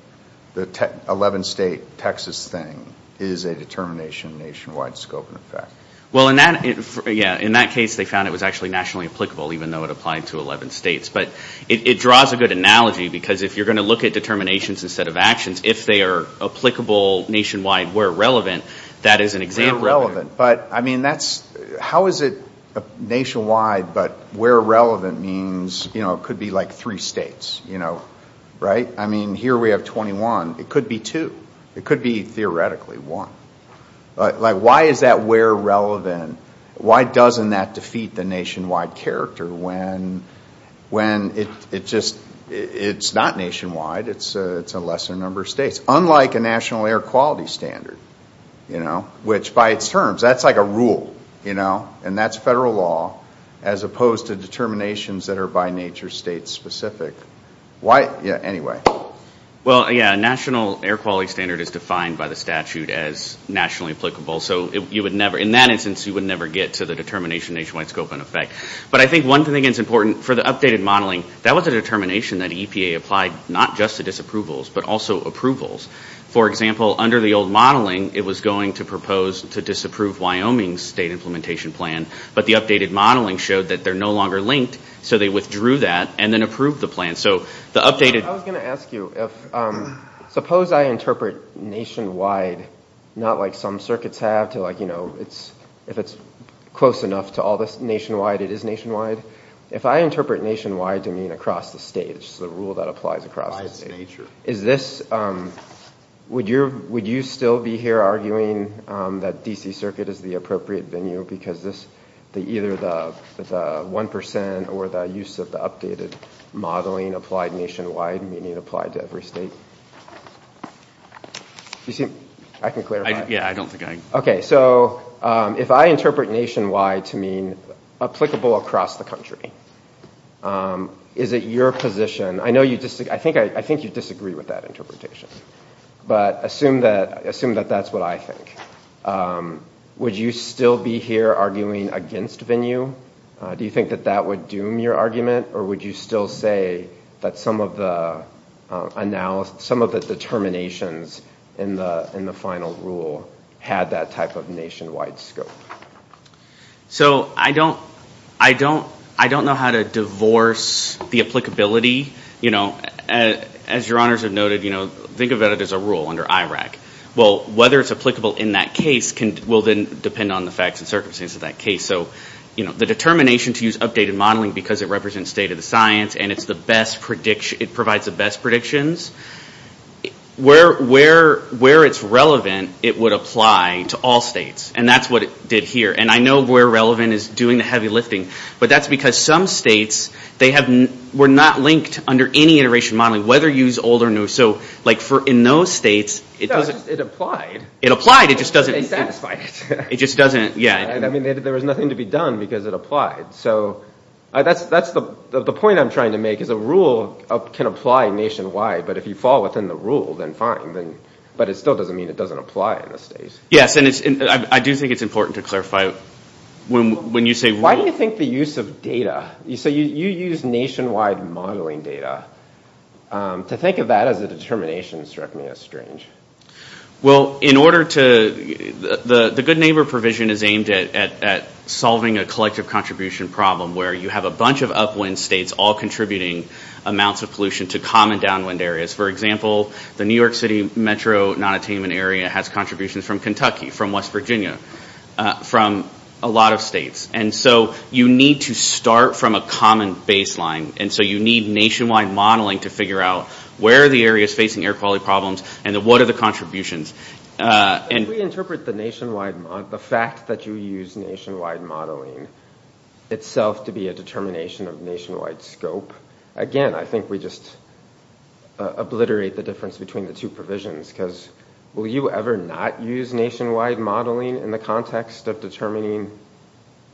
the 11-state Texas thing is a determination nationwide scope in effect. Well, in that case they found it was actually nationally applicable even though it applied to 11 states. But it draws a good analogy because if you're going to look at determinations instead of actions, if they are applicable nationwide where relevant, that is an example. How is it nationwide but where relevant means it could be like three states, right? I mean, here we have 21. It could be two. It could be theoretically one. Why is that where relevant? Why doesn't that defeat the nationwide character when it's not nationwide, it's a lesser number of states, unlike a national air quality standard, which by its terms, that's like a rule, and that's federal law as opposed to determinations that are by nature state-specific. Yeah, anyway. Well, yeah, a national air quality standard is defined by the statute as nationally applicable, so in that instance you would never get to the determination nationwide scope in effect. But I think one thing that's important for the updated modeling, that was a determination that EPA applied not just to disapprovals but also approvals. For example, under the old modeling, it was going to propose to disapprove Wyoming's state implementation plan, but the updated modeling showed that they're no longer linked, so they withdrew that and then approved the plan. So the updated... I was going to ask you, suppose I interpret nationwide, not like some circuits have to like, you know, if it's close enough to all this nationwide, it is nationwide. If I interpret nationwide to mean across the stage, the rule that applies across the stage, is this... Would you still be here arguing that DC Circuit is the appropriate venue because either the 1% or the use of the updated modeling applied nationwide meaning it applied to every state? I can clarify. Yeah, I don't think I... Okay, so if I interpret nationwide to mean applicable across the country, is it your position... I think you disagree with that interpretation, but assume that that's what I think. Would you still be here arguing against venue? Do you think that that would doom your argument or would you still say that some of the determinations in the final rule had that type of nationwide scope? So I don't... I don't know how to divorce the applicability. You know, as your honors have noted, you know, think of that as a rule under IRAC. Well, whether it's applicable in that case will then depend on the facts and circumstances of that case. So, you know, the determination to use updated modeling because it represents state of the science and it's the best prediction, it provides the best predictions. Where it's relevant, it would apply to all states and that's what it did here. And I know where relevant is doing the heavy lifting, but that's because some states, they have... were not linked under any iteration modeling, whether used old or new. So like for in those states, it doesn't... It applied. It applied, it just doesn't... It just doesn't, yeah. I mean, there was nothing to be done because it applied. So that's the point I'm trying to make is a rule can apply nationwide, but if you fall within the rule, then fine, but it still doesn't mean it doesn't apply in this case. Yes, and I do think it's important to clarify when you say... Why do you think the use of data? So you use nationwide modeling data. To think of that as a determination struck me as strange. Well, in order to... The good neighbor provision is aimed at solving a collective contribution problem where you have a bunch of upwind states all contributing amounts of pollution to common downwind areas. For example, the New York City Metro non-attainment area has contributions from Kentucky, from West Virginia. From a lot of states. And so you need to start from a common baseline. And so you need nationwide modeling to figure out where are the areas facing air quality problems and what are the contributions. If we interpret the nationwide... The fact that you use nationwide modeling itself to be a determination of nationwide scope, again, I think we just obliterate the difference between the two provisions because will you ever not use nationwide modeling in the context of determining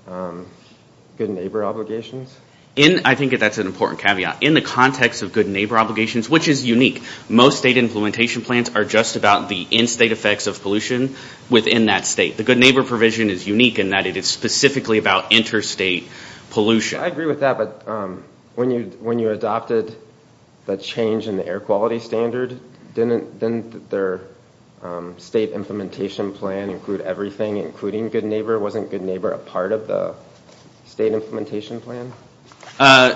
good neighbor obligations? I think that's an important caveat. In the context of good neighbor obligations, which is unique, most state implementation plans are just about the in-state effects of pollution within that state. The good neighbor provision is unique in that it is specifically about interstate pollution. I agree with that, but when you adopted the change in the air quality standard, didn't their state implementation plan include everything including good neighbor? Wasn't good neighbor a part of the state implementation plan?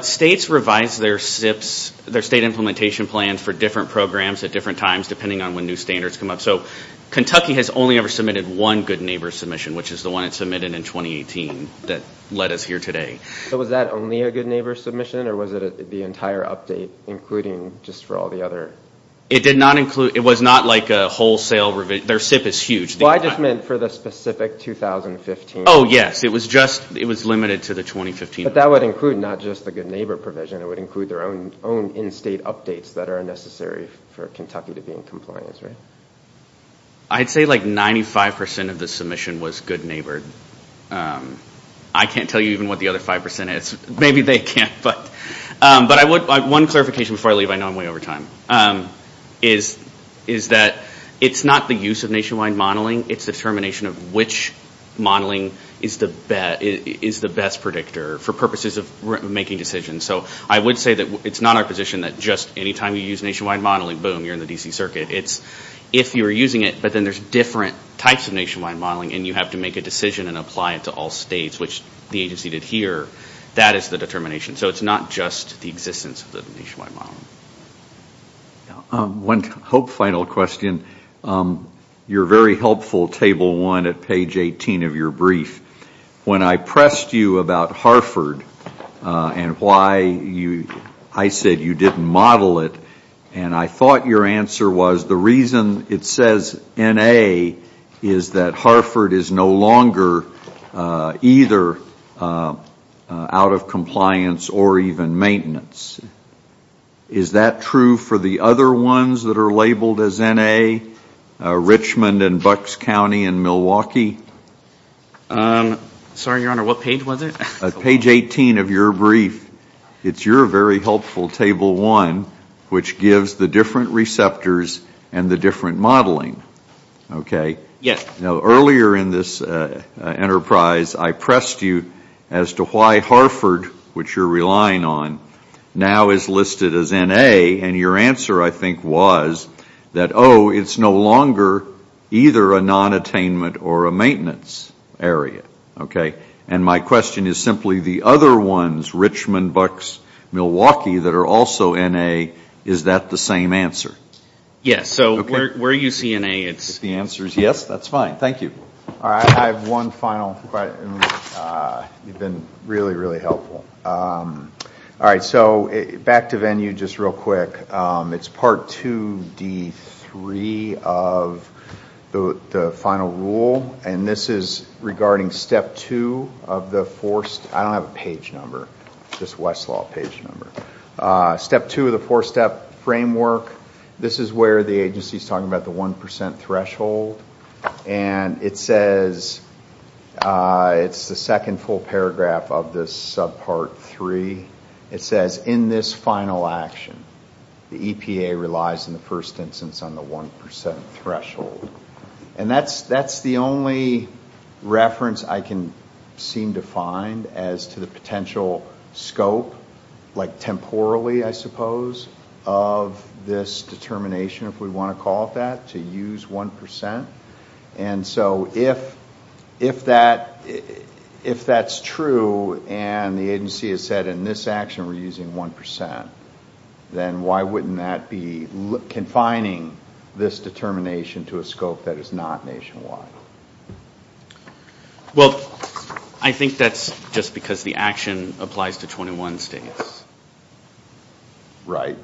States revise their SIPs, their state implementation plans, for different programs at different times depending on when new standards come up. Kentucky has only ever submitted one good neighbor submission, which is the one it submitted in 2018 that led us here today. Was that only a good neighbor submission or was it the entire update including just for all the other... It did not include... It was not like a wholesale revision. Their SIP is huge. I just meant for the specific 2015. Oh, yes. It was limited to the 2015. But that would include not just the good neighbor provision, it would include their own in-state updates that are necessary for Kentucky to be in compliance, right? I'd say like 95% of the submission was good neighbor. I can't tell you even what the other 5% is. Maybe they can't, but one clarification before I leave, I know I'm way over time, is that it's not the use of nationwide modeling it's determination of which modeling is the best predictor for purposes of making decisions. So I would say that it's not our position that just anytime you use nationwide modeling, boom, you're in the DC circuit. It's if you're using it, but then there's different types of nationwide modeling and you have to make a decision and apply it to all states, which the agency did here, that is the determination. So it's not just the existence of the nationwide modeling. One hopeful final question. You're very helpful, Table 1, at page 18 of your brief. When I pressed you about Hartford and why I said you didn't model it and I thought your answer was the reason it says NA is that Hartford is no longer either out of compliance or even maintenance. Is that true for the other ones that are labeled as NA, Richmond and Bucks County and Milwaukee? Sorry, Your Honor, what page was it? Page 18 of your brief. It's your very helpful, Table 1, which gives the different receptors and the different modeling. Yes. Earlier in this enterprise, I pressed you as to why Hartford, which you're relying on, now is listed as NA and your answer, I think, was that, oh, it's no longer either a non-attainment or a maintenance area. Okay? And my question is simply the other ones, Richmond, Bucks, Milwaukee, that are also NA, is that the same answer? Yes. So where you see NA, it's... The answer is yes. That's fine. Thank you. I have one final question. You've been really, really helpful. All right, so back to venue just real quick. It's Part 2D3 of the final rule and this is regarding Step 2 of the four... I don't have a page number. Just Westlaw page number. Step 2 of the four-step framework, this is where the agency's talking about the 1% threshold and it says... It's the second full paragraph of this Part 3. It says, in this final action, the EPA relies in the first instance on the 1% threshold. And that's the only reference I can seem to find as to the potential scope, like temporally, I suppose, of this determination, if we want to call it that, to use 1%. And so if that's true and the agency has said in this action we're using 1%, then why wouldn't that be confining this determination to a scope that is not nationwide? Well, I think that's just because the action applies to 21 states. Right,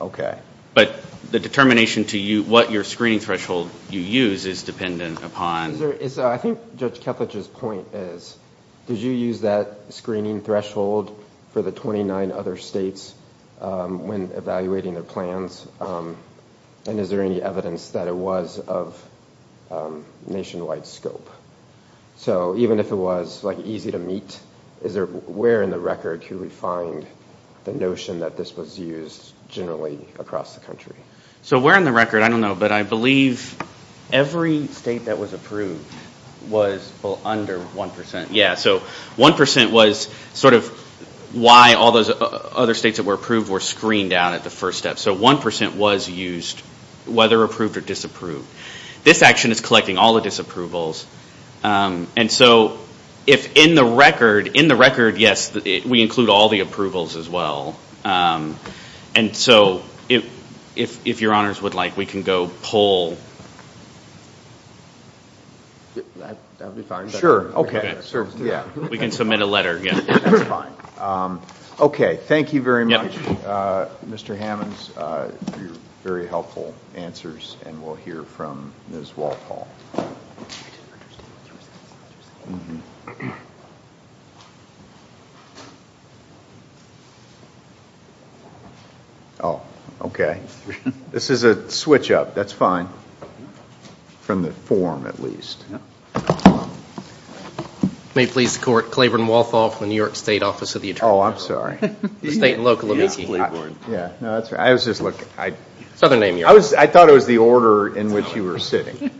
okay. But the determination to what your screening threshold you use is dependent upon... I think Judge Ketlech's point is, did you use that screening threshold for the 29 other states when evaluating their plans? And is there any evidence that it was of nationwide scope? So even if it was easy to meet, where in the record do we find the notion that this was used generally across the country? So where in the record? I don't know, but I believe every state that was approved was under 1%. Yeah, so 1% was sort of why all those other states that were approved were screened out at the first step. So 1% was used, whether approved or disapproved. This action is collecting all the disapprovals. And so in the record, yes, we include all the approvals as well. And so if your honors would like, we can go pull... Sure, okay. We can submit a letter. That's fine. Okay, thank you very much, Mr. Hammonds. Very helpful answers. And we'll hear from Ms. Walthall. Oh, okay. This is a switch-up. That's fine. From the form, at least. May it please the court, Claiborne Walthall from the New York State Office of the Attorney General. Oh, I'm sorry. State and local amici. Yeah, no, that's all right. I was just looking. What's the other name? I thought it was the order in which you were sitting.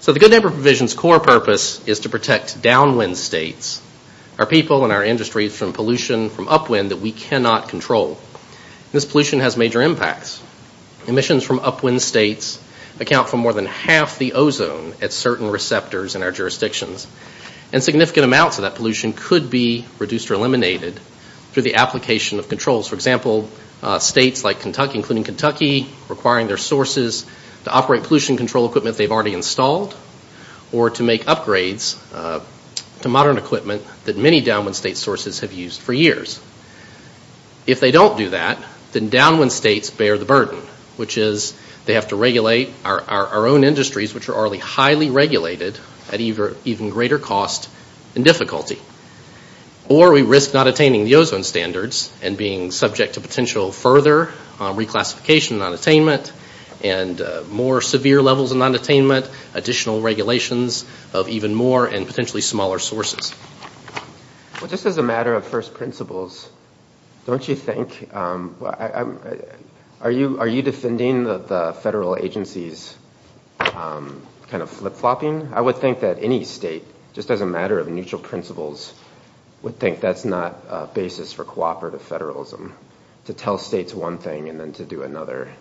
So the good neighbor provision's core purpose is to protect downwind states, our people and our industries from pollution from upwind that we cannot control. This pollution has major impacts. Emissions from upwind states account for more than half the ozone at certain receptors in our jurisdictions. And significant amounts of that pollution could be reduced or eliminated through the application of controls. For example, states like Kentucky, including Kentucky, requiring their sources to operate pollution control equipment they've already installed or to make upgrades to modern equipment that many downwind state sources have used for years. If they don't do that, then downwind states bear the burden, which is they have to regulate our own industries, which are already highly regulated at even greater cost and difficulty. Or we risk not attaining the ozone standards and being subject to potential further reclassification and unattainment and more severe levels of unattainment, additional regulations of even more and potentially smaller sources. Just as a matter of first principles, don't you think... Are you defending the federal agencies kind of flip-flopping? I would think that any state, just as a matter of neutral principles, would think that's not a basis for cooperative federalism, to tell states one thing and then to do another.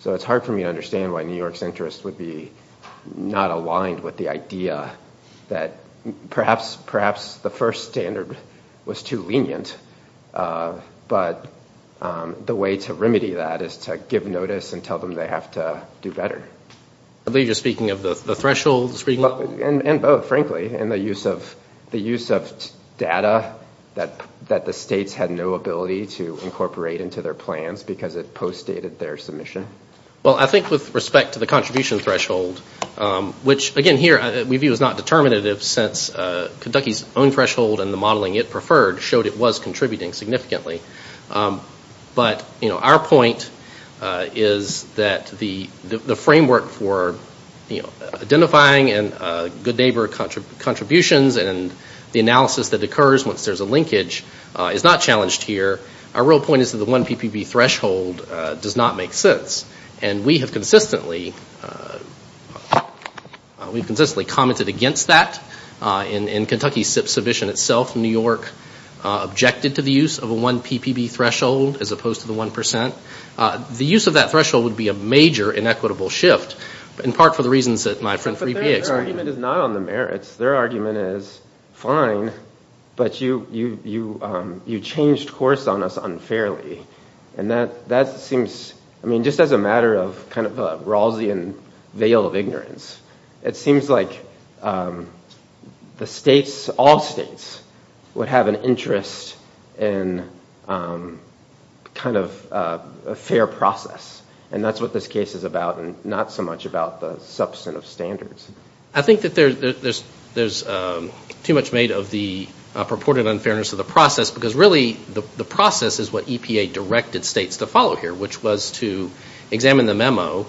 So it's hard for me to understand why New York's interest would be not aligned with the idea that perhaps the first standard was too lenient, but the way to remedy that is to give notice and tell them they have to do better. I believe you're speaking of the thresholds... And both, frankly, and the use of data that the states had no ability to incorporate into their plans because it postdated their submission. Well, I think with respect to the contribution threshold, which, again, here, we view as not determinative since Kentucky's own threshold and the modeling it preferred showed it was contributing significantly. But our point is that the framework for identifying and good neighbor contributions and the analysis that occurs once there's a linkage is not challenged here. Our real point is that the 1 PPP threshold does not make sense. And we have consistently... We've consistently commented against that. In Kentucky's submission itself, New York objected to the use of a 1 PPP threshold as opposed to the 1%. The use of that threshold would be a major inequitable shift in part for the reasons that my friend... But their argument is not on the merits. Their argument is, fine, but you changed course on us unfairly. And that seems... I mean, just as a matter of kind of a Rawlsian veil of ignorance, it seems like the states, all states, would have an interest in kind of a fair process. And that's what this case is about and not so much about the substantive standards. I think that there's too much made of the purported unfairness of the process because, really, the process is what EPA directed states to follow here, which was to examine the memo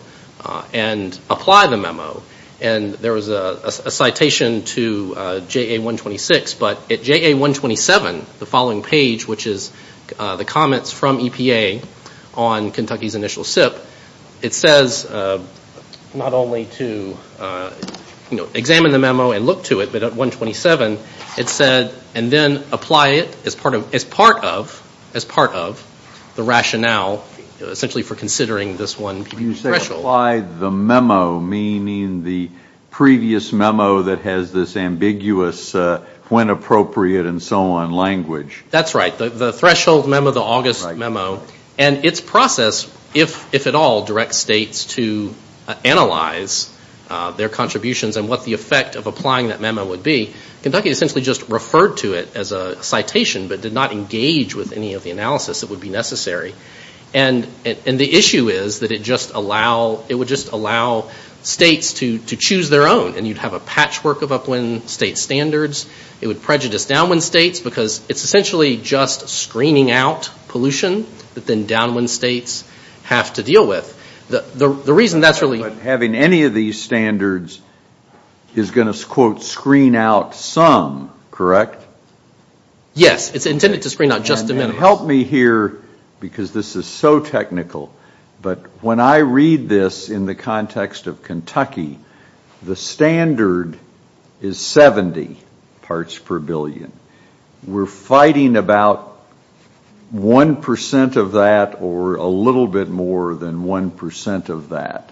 and apply the memo. And there was a citation to JA-126, but at JA-127, the following page, which is the comments from EPA on Kentucky's initial SIP, it says not only to examine the memo and look to it, but at 127, it said, and then apply it as part of the rationale, essentially for considering this one threshold. You said apply the memo, meaning the previous memo that has this ambiguous when appropriate and so on language. That's right. The threshold memo, the August memo. And its process, if at all, directs states to analyze their contributions and what the effect of applying that memo would be. Kentucky essentially just referred to it as a citation, but did not engage with any of the analysis that would be necessary. And the issue is that it would just allow states to choose their own. And you'd have a patchwork of upwind state standards. It would prejudice downwind states because it's essentially just screening out pollution that then downwind states have to deal with. The reason that's really... But having any of these standards is going to, quote, screen out some, correct? Yes. It's intended to screen out just a minute. And help me here because this is so technical. But when I read this in the context of Kentucky, the standard is 70 parts per billion. We're fighting about 1% of that or a little bit more than 1% of that.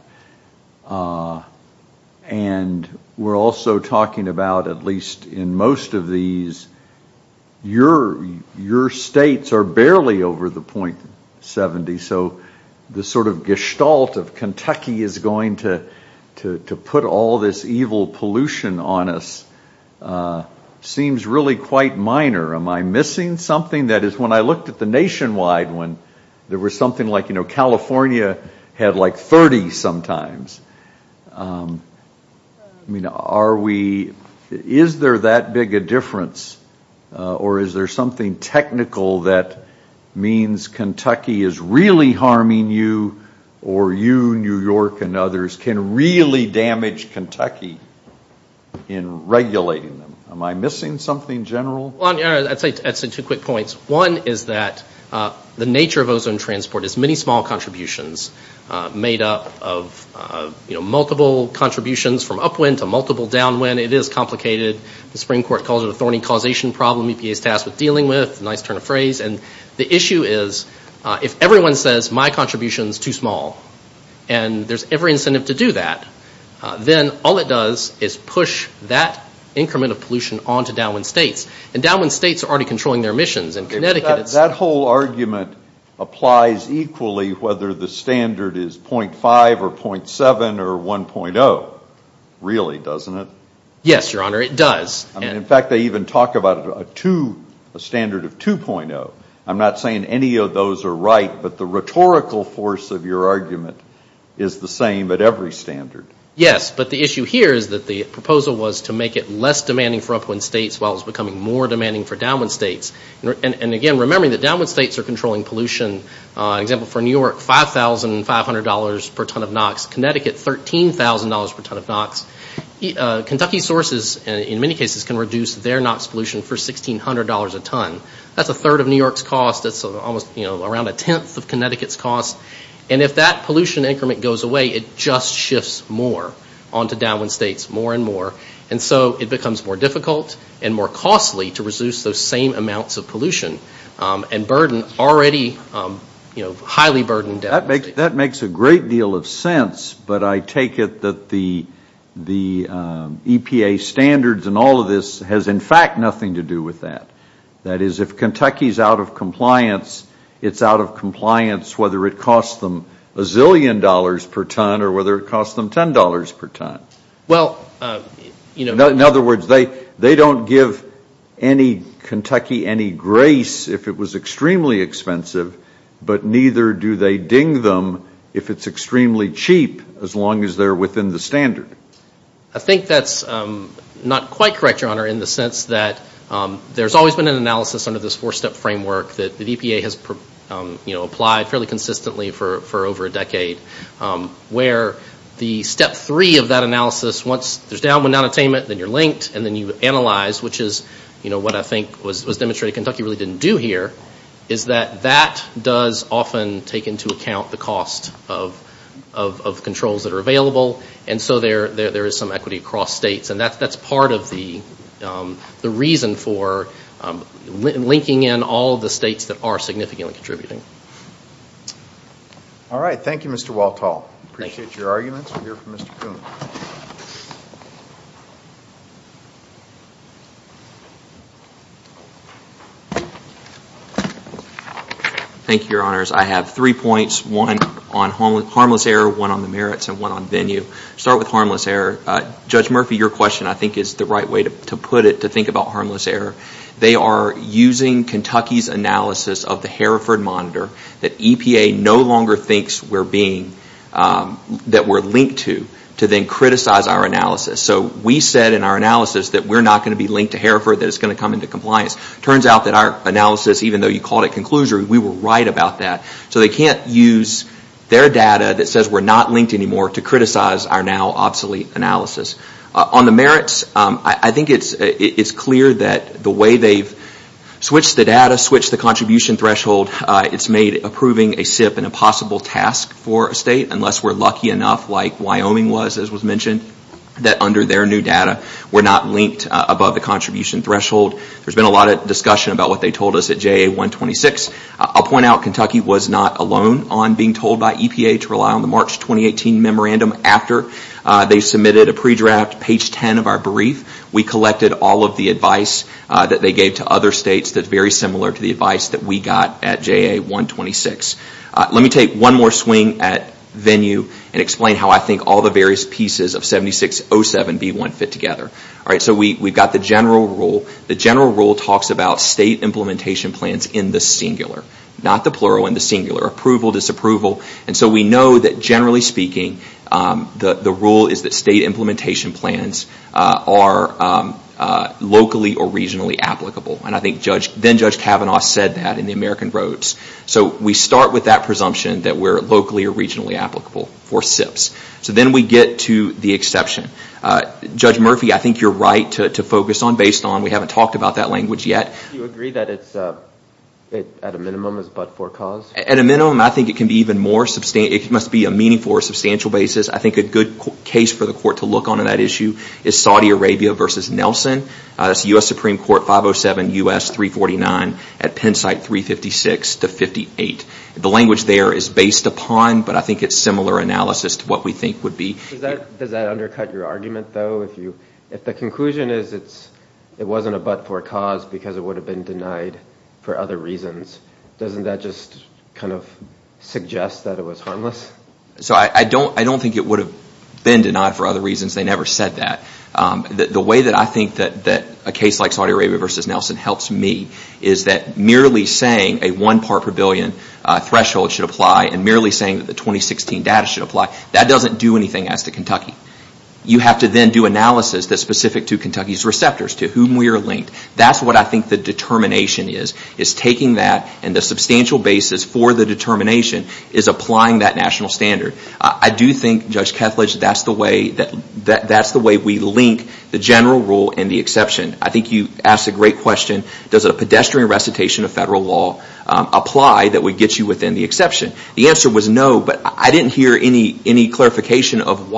And we're also talking about, at least in most of these, your states are barely over the .70. So the sort of gestalt of Kentucky is going to put all this evil pollution on us seems really quite minor. Am I missing something? That is, when I looked at the nationwide one, there was something like, California had like 30 sometimes. I mean, are we... Is there that big a difference? Or is there something technical that means Kentucky is really harming you or you, New York, and others can really damage Kentucky in regulating them? Am I missing something general? I'd say two quick points. One is that the nature of ozone transport is many small contributions made up of multiple contributions from upwind to multiple downwind. It is complicated. The Supreme Court calls it a thorny causation problem EPA is fast with dealing with. Nice turn of phrase. And the issue is, if everyone says my contribution is too small and there's every incentive to do that, then all it does is push that increment of pollution onto downwind states. And downwind states are already controlling their emissions. That whole argument applies equally whether the standard is 0.5 or 0.7 or 1.0. Really, doesn't it? Yes, Your Honor, it does. In fact, they even talk about a standard of 2.0. I'm not saying any of those are right, but the rhetorical force of your argument is the same at every standard. Yes, but the issue here is that the proposal was to make it less demanding for upwind states while it was becoming more demanding for downwind states. And again, remembering that downwind states are controlling pollution. For example, for New York, $5,500 per ton of NOx. Connecticut, $13,000 per ton of NOx. Kentucky sources, in many cases, can reduce their NOx pollution for $1,600 a ton. That's a third of New York's cost. That's almost around a tenth of Connecticut's cost. And if that pollution increment goes away, it just shifts more onto downwind states, more and more. And so it becomes more difficult and more costly to reduce those same amounts of pollution and burden already highly burdened. That makes a great deal of sense, but I take it that the EPA standards and all of this has in fact nothing to do with that. That is, if Kentucky's out of compliance, it's out of compliance whether it costs them a zillion dollars per ton or whether it costs them $10 per ton. Well, you know... In other words, they don't give any Kentucky any grace if it was extremely expensive, but neither do they ding them if it's extremely cheap as long as they're within the standard. I think that's not quite correct, Your Honor, in the sense that there's always been an analysis under this four-step framework that the EPA has applied fairly consistently for over a decade where the step three of that analysis, once there's downwind and out of attainment, then you're linked, and then you analyze, which is what I think was demonstrated Kentucky really didn't do here, is that that does often take into account the cost of controls that are available, and so there is some equity across states, and that's part of the reason for linking in all of the states that are significantly contributing. All right. Thank you, Mr. Walcott. Appreciate your arguments. We'll hear from Mr. Kuhn. Thank you, Your Honors. I have three points, one on harmless error, one on the merits, and one on venue. Start with harmless error. Judge Murphy, your question, I think, is the right way to put it to think about harmless error. They are using Kentucky's analysis of the Hereford monitor that EPA no longer thinks we're being, that we're linked to, to then criticize our analysis. So we said in our analysis that we're not going to be linked to Hereford, that it's going to come into compliance, turns out that our analysis, even though you called it conclusion, we were right about that. So they can't use their data that says we're not linked anymore to criticize our now obsolete analysis. On the merits, I think it's clear that the way they've switched the data, switched the contribution threshold, it's made approving a SIP an impossible task for a state unless we're lucky enough, like Wyoming was, as was mentioned, that under their new data, we're not linked above the contribution threshold. There's been a lot of discussion about what they told us at JA-126. I'll point out, Kentucky was not alone on being told by EPA to rely on the March 2018 memorandum. After they submitted a pre-draft page 10 of our brief, we collected all of the advice that they gave to other states that's very similar to the advice that we got at JA-126. Let me take one more swing at venue and explain how I think all the various pieces of 7607b1 fit together. So we've got the general rule talks about state implementation plans in the singular, not the plural in the singular, approval, disapproval. And so we know that, generally speaking, the rule is that state implementation plans are locally or regionally applicable. And I think then Judge Kavanaugh said that in the American Robes. So we start with that presumption that we're locally or regionally applicable for SIPs. So then we get to the exception. Judge Murphy, I think you're right to focus on based on when we haven't talked about that language yet. You agree that it's at a minimum is but for cause? At a minimum, I think it can be even more substantial. It must be a meaningful or substantial basis. I think a good case for the court to look on that issue is Saudi Arabia v. Nelson. That's U.S. Supreme Court 507 U.S. 349 at Pennsite 356-58. The language there is based upon, but I think it's similar analysis to what we think would be. Does that undercut your argument though? If the conclusion is it wasn't a but for cause because it would have been denied for other reasons, doesn't that just kind of suggest that it was harmless? I don't think it would have been denied for other reasons. They never said that. The way that I think that a case like Saudi Arabia v. Nelson helps me is that merely saying a one part per billion threshold should apply and merely saying that the 2016 data should apply, that doesn't do anything after Kentucky. You have to then do analysis that's specific to Kentucky's receptors to whom we are linked. That's what I think the determination is. It's taking that and the substantial basis for the determination is applying that national standard. I do think, Judge Kethledge, that's the way we link the general rule and the exception. I think you asked a great question. Does a pedestrian recitation of federal law apply that would get you within the exception? The answer was no, but I didn't hear any clarification of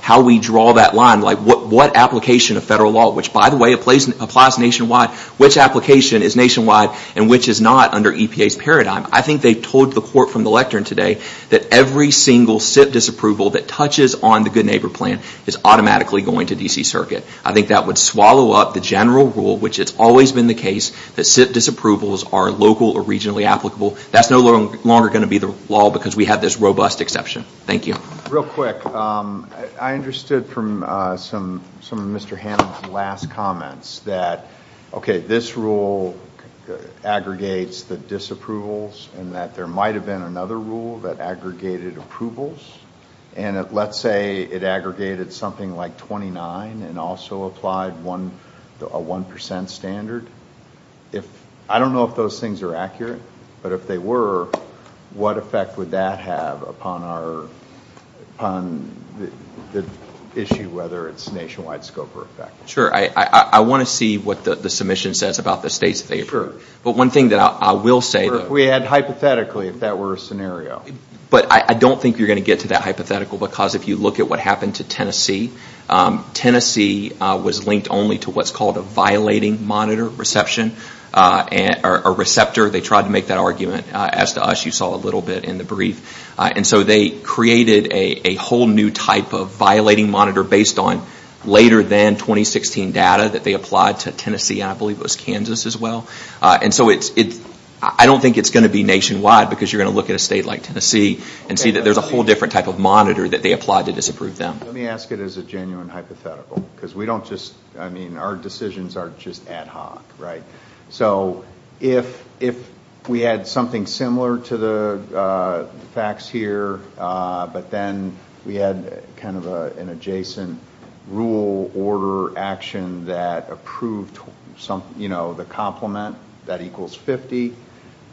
how we draw that line. What application of federal law, which, by the way, applies nationwide. Which application is nationwide and which is not under EPA's paradigm? I think they told the court from the lectern today that every single SIP disapproval that touches on the Good Neighbor Plan is automatically going to D.C. Circuit. I think that would swallow up the general rule, which has always been the case, that SIP disapprovals are local or regionally applicable. That's no longer going to be the law because we have this robust exception. Thank you. Real quick, I understood from some of Mr. Hanlon's last comments that, okay, this rule aggregates the disapprovals and that there might have been another rule that aggregated approvals. Let's say it aggregated something like 29 and also applied a 1% standard. I don't know if those things are accurate, but if they were, what effect would that have upon the issue, whether it's nationwide scope or effect? Sure. I want to see what the submission says about the state's behavior. Sure. One thing that I will say... We add hypothetically if that were a scenario. I don't think you're going to get to that hypothetical because if you look at what happened to Tennessee, Tennessee was linked only to what's called a violating monitor reception or receptor. They tried to make that argument. As to us, you saw a little bit in the brief. They created a whole new type of violating monitor based on later than 2016 data that they applied to Tennessee and I believe it was Kansas as well. I don't think it's going to be nationwide because you're going to look at a state like Tennessee and see that there's a whole different type of monitor that they applied to disapprove them. Let me ask it as a genuine hypothetical because our decisions are just ad hoc. If we had something similar to the facts here but then we had an adjacent rule or action that approved the complement that equals 50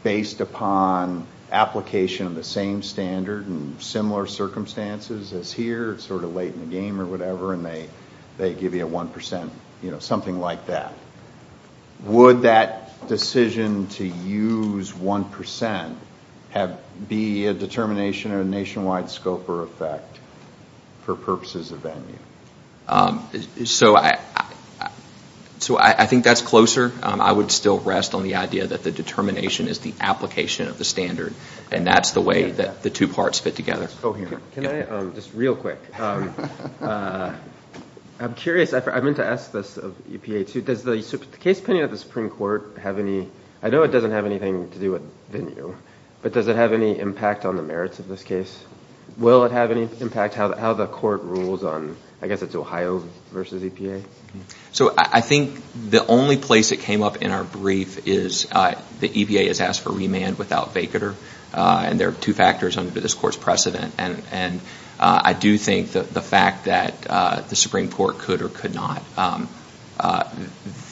based upon application of the same standard and similar circumstances as here, sort of late in the game or whatever and they give you a 1%, something like that. Would that decision to use 1% be a determination or a nationwide scope or effect for purposes of that? I think that's closer. I would still rest on the idea that the determination is the application of the standard and that's the way that the two parts fit together. Just real quick. I'm curious. I meant to ask this of you, but does the case pending at the Supreme Court have any, I know it doesn't have anything to do with venue, but does it have any impact on the merits of this case? Will it have any impact how the court rules on, I guess it's Ohio versus EPA? I think the only place it came up in our brief is the EVA has asked for remand without vacater and there are two factors under this court's precedent. I do think that the fact that the Supreme Court could or could not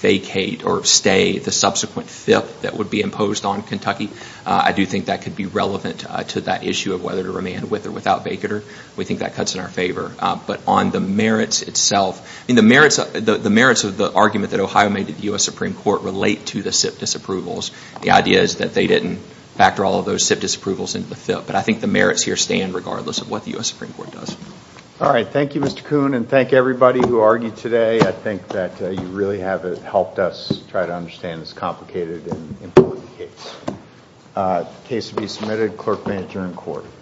vacate or stay the subsequent FIP that would be imposed on Kentucky, I do think that could be relevant to that issue of whether to remand with or without vacater. We think that cuts in our favor. But on the merits itself, the merits of the argument that Ohio made to the U.S. Supreme Court relate to the SIP disapprovals. The idea is that they didn't factor all of those SIP disapprovals into the FIP, but I think the merits here stand regardless of what the U.S. Supreme Court does. All right. Thank you, Mr. Coon, and thank everybody who argued today. I think that you really have helped us try to understand this complicated and important case. The case will be submitted. Clerk may adjourn the court.